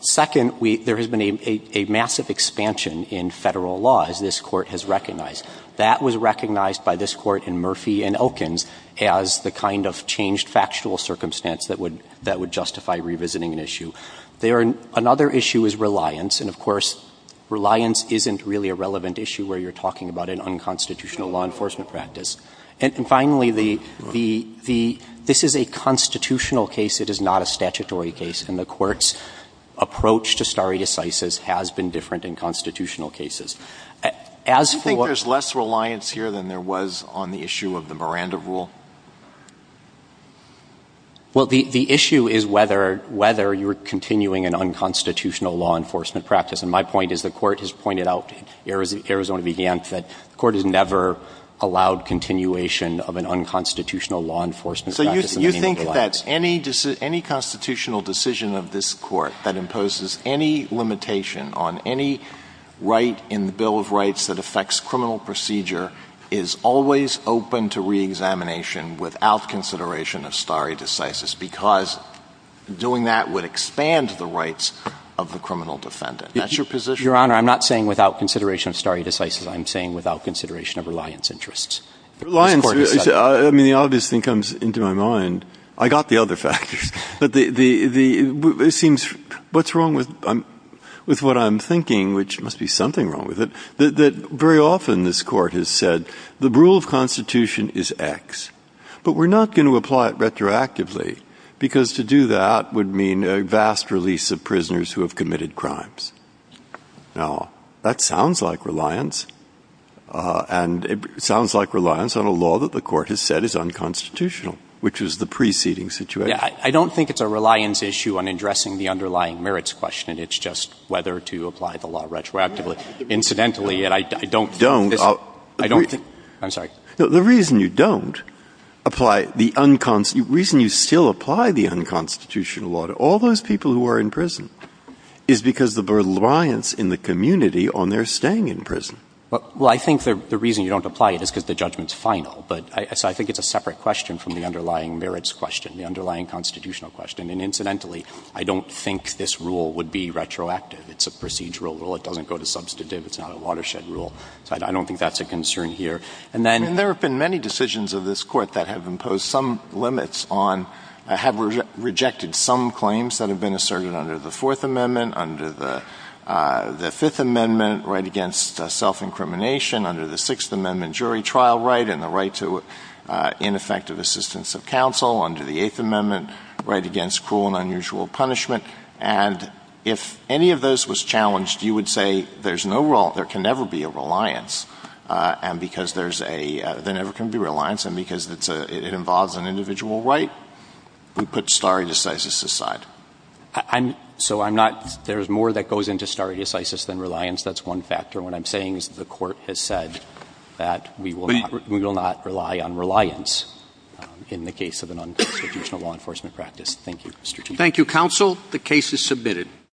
Second, there has been a massive expansion in federal law, as this Court has recognized. That was recognized by this Court in Murphy and Okins as the kind of changed factual circumstance that would justify revisiting an issue. Another issue is reliance, and, of course, reliance isn't really a relevant issue where you're talking about an unconstitutional law enforcement practice. And finally, this is a constitutional case. It is not a statutory case, and the Court's approach to stare decisis has been different in constitutional cases. Do you think there's less reliance here than there was on the issue of the Miranda Rule? Well, the issue is whether you're continuing an unconstitutional law enforcement practice. And my point is the Court has pointed out, Arizona began, that the Court has never allowed continuation of an unconstitutional law enforcement practice. So you think that any constitutional decision of this Court that imposes any limitation on any right in the Bill of Rights that affects criminal procedure is always open to reexamination without consideration of stare decisis because doing that would expand the rights of the criminal defendant. Your Honor, I'm not saying without consideration of stare decisis. I'm saying without consideration of reliance interests. Reliance, I mean, the obvious thing comes into my mind. I got the other factors. It seems, what's wrong with what I'm thinking, which must be something wrong with it, that very often this Court has said the rule of constitution is X, but we're not going to apply it retroactively because to do that would mean a vast release of prisoners who have committed crimes. Now, that sounds like reliance, and it sounds like reliance on a law that the Court has said is unconstitutional, which is the preceding situation. I don't think it's a reliance issue on addressing the underlying merits question. It's just whether to apply the law retroactively. Incidentally, and I don't think... Don't. I don't think... I'm sorry. The reason you don't apply the unconstitutional... The reason you still apply the unconstitutional law to all those people who are in prison is because of the reliance in the community on their staying in prison. Well, I think the reason you don't apply it is because the judgment's final, so I think it's a separate question from the underlying merits question, the underlying constitutional question. And incidentally, I don't think this rule would be retroactive. It's a procedural rule. It doesn't go to substantive. It's not a watershed rule, so I don't think that's a concern here. And then... And there have been many decisions of this Court that have imposed some limits on... have rejected some claims that have been asserted under the Fourth Amendment, under the Fifth Amendment right against self-incrimination, under the Sixth Amendment jury trial right and the right to ineffective assistance of counsel, under the Eighth Amendment right against cruel and unusual punishment. And if any of those was challenged, you would say there's no... There can never be a reliance, and because there's a... There never can be a reliance, and because it involves an individual right, we put stare decisis aside. So I'm not... There's more that goes into stare decisis than reliance. That's one factor. What I'm saying is that the Court has said that we will not rely on reliance in the case of an unconstitutional law enforcement practice. Thank you, Mr. Chief. Thank you, counsel. The case is submitted.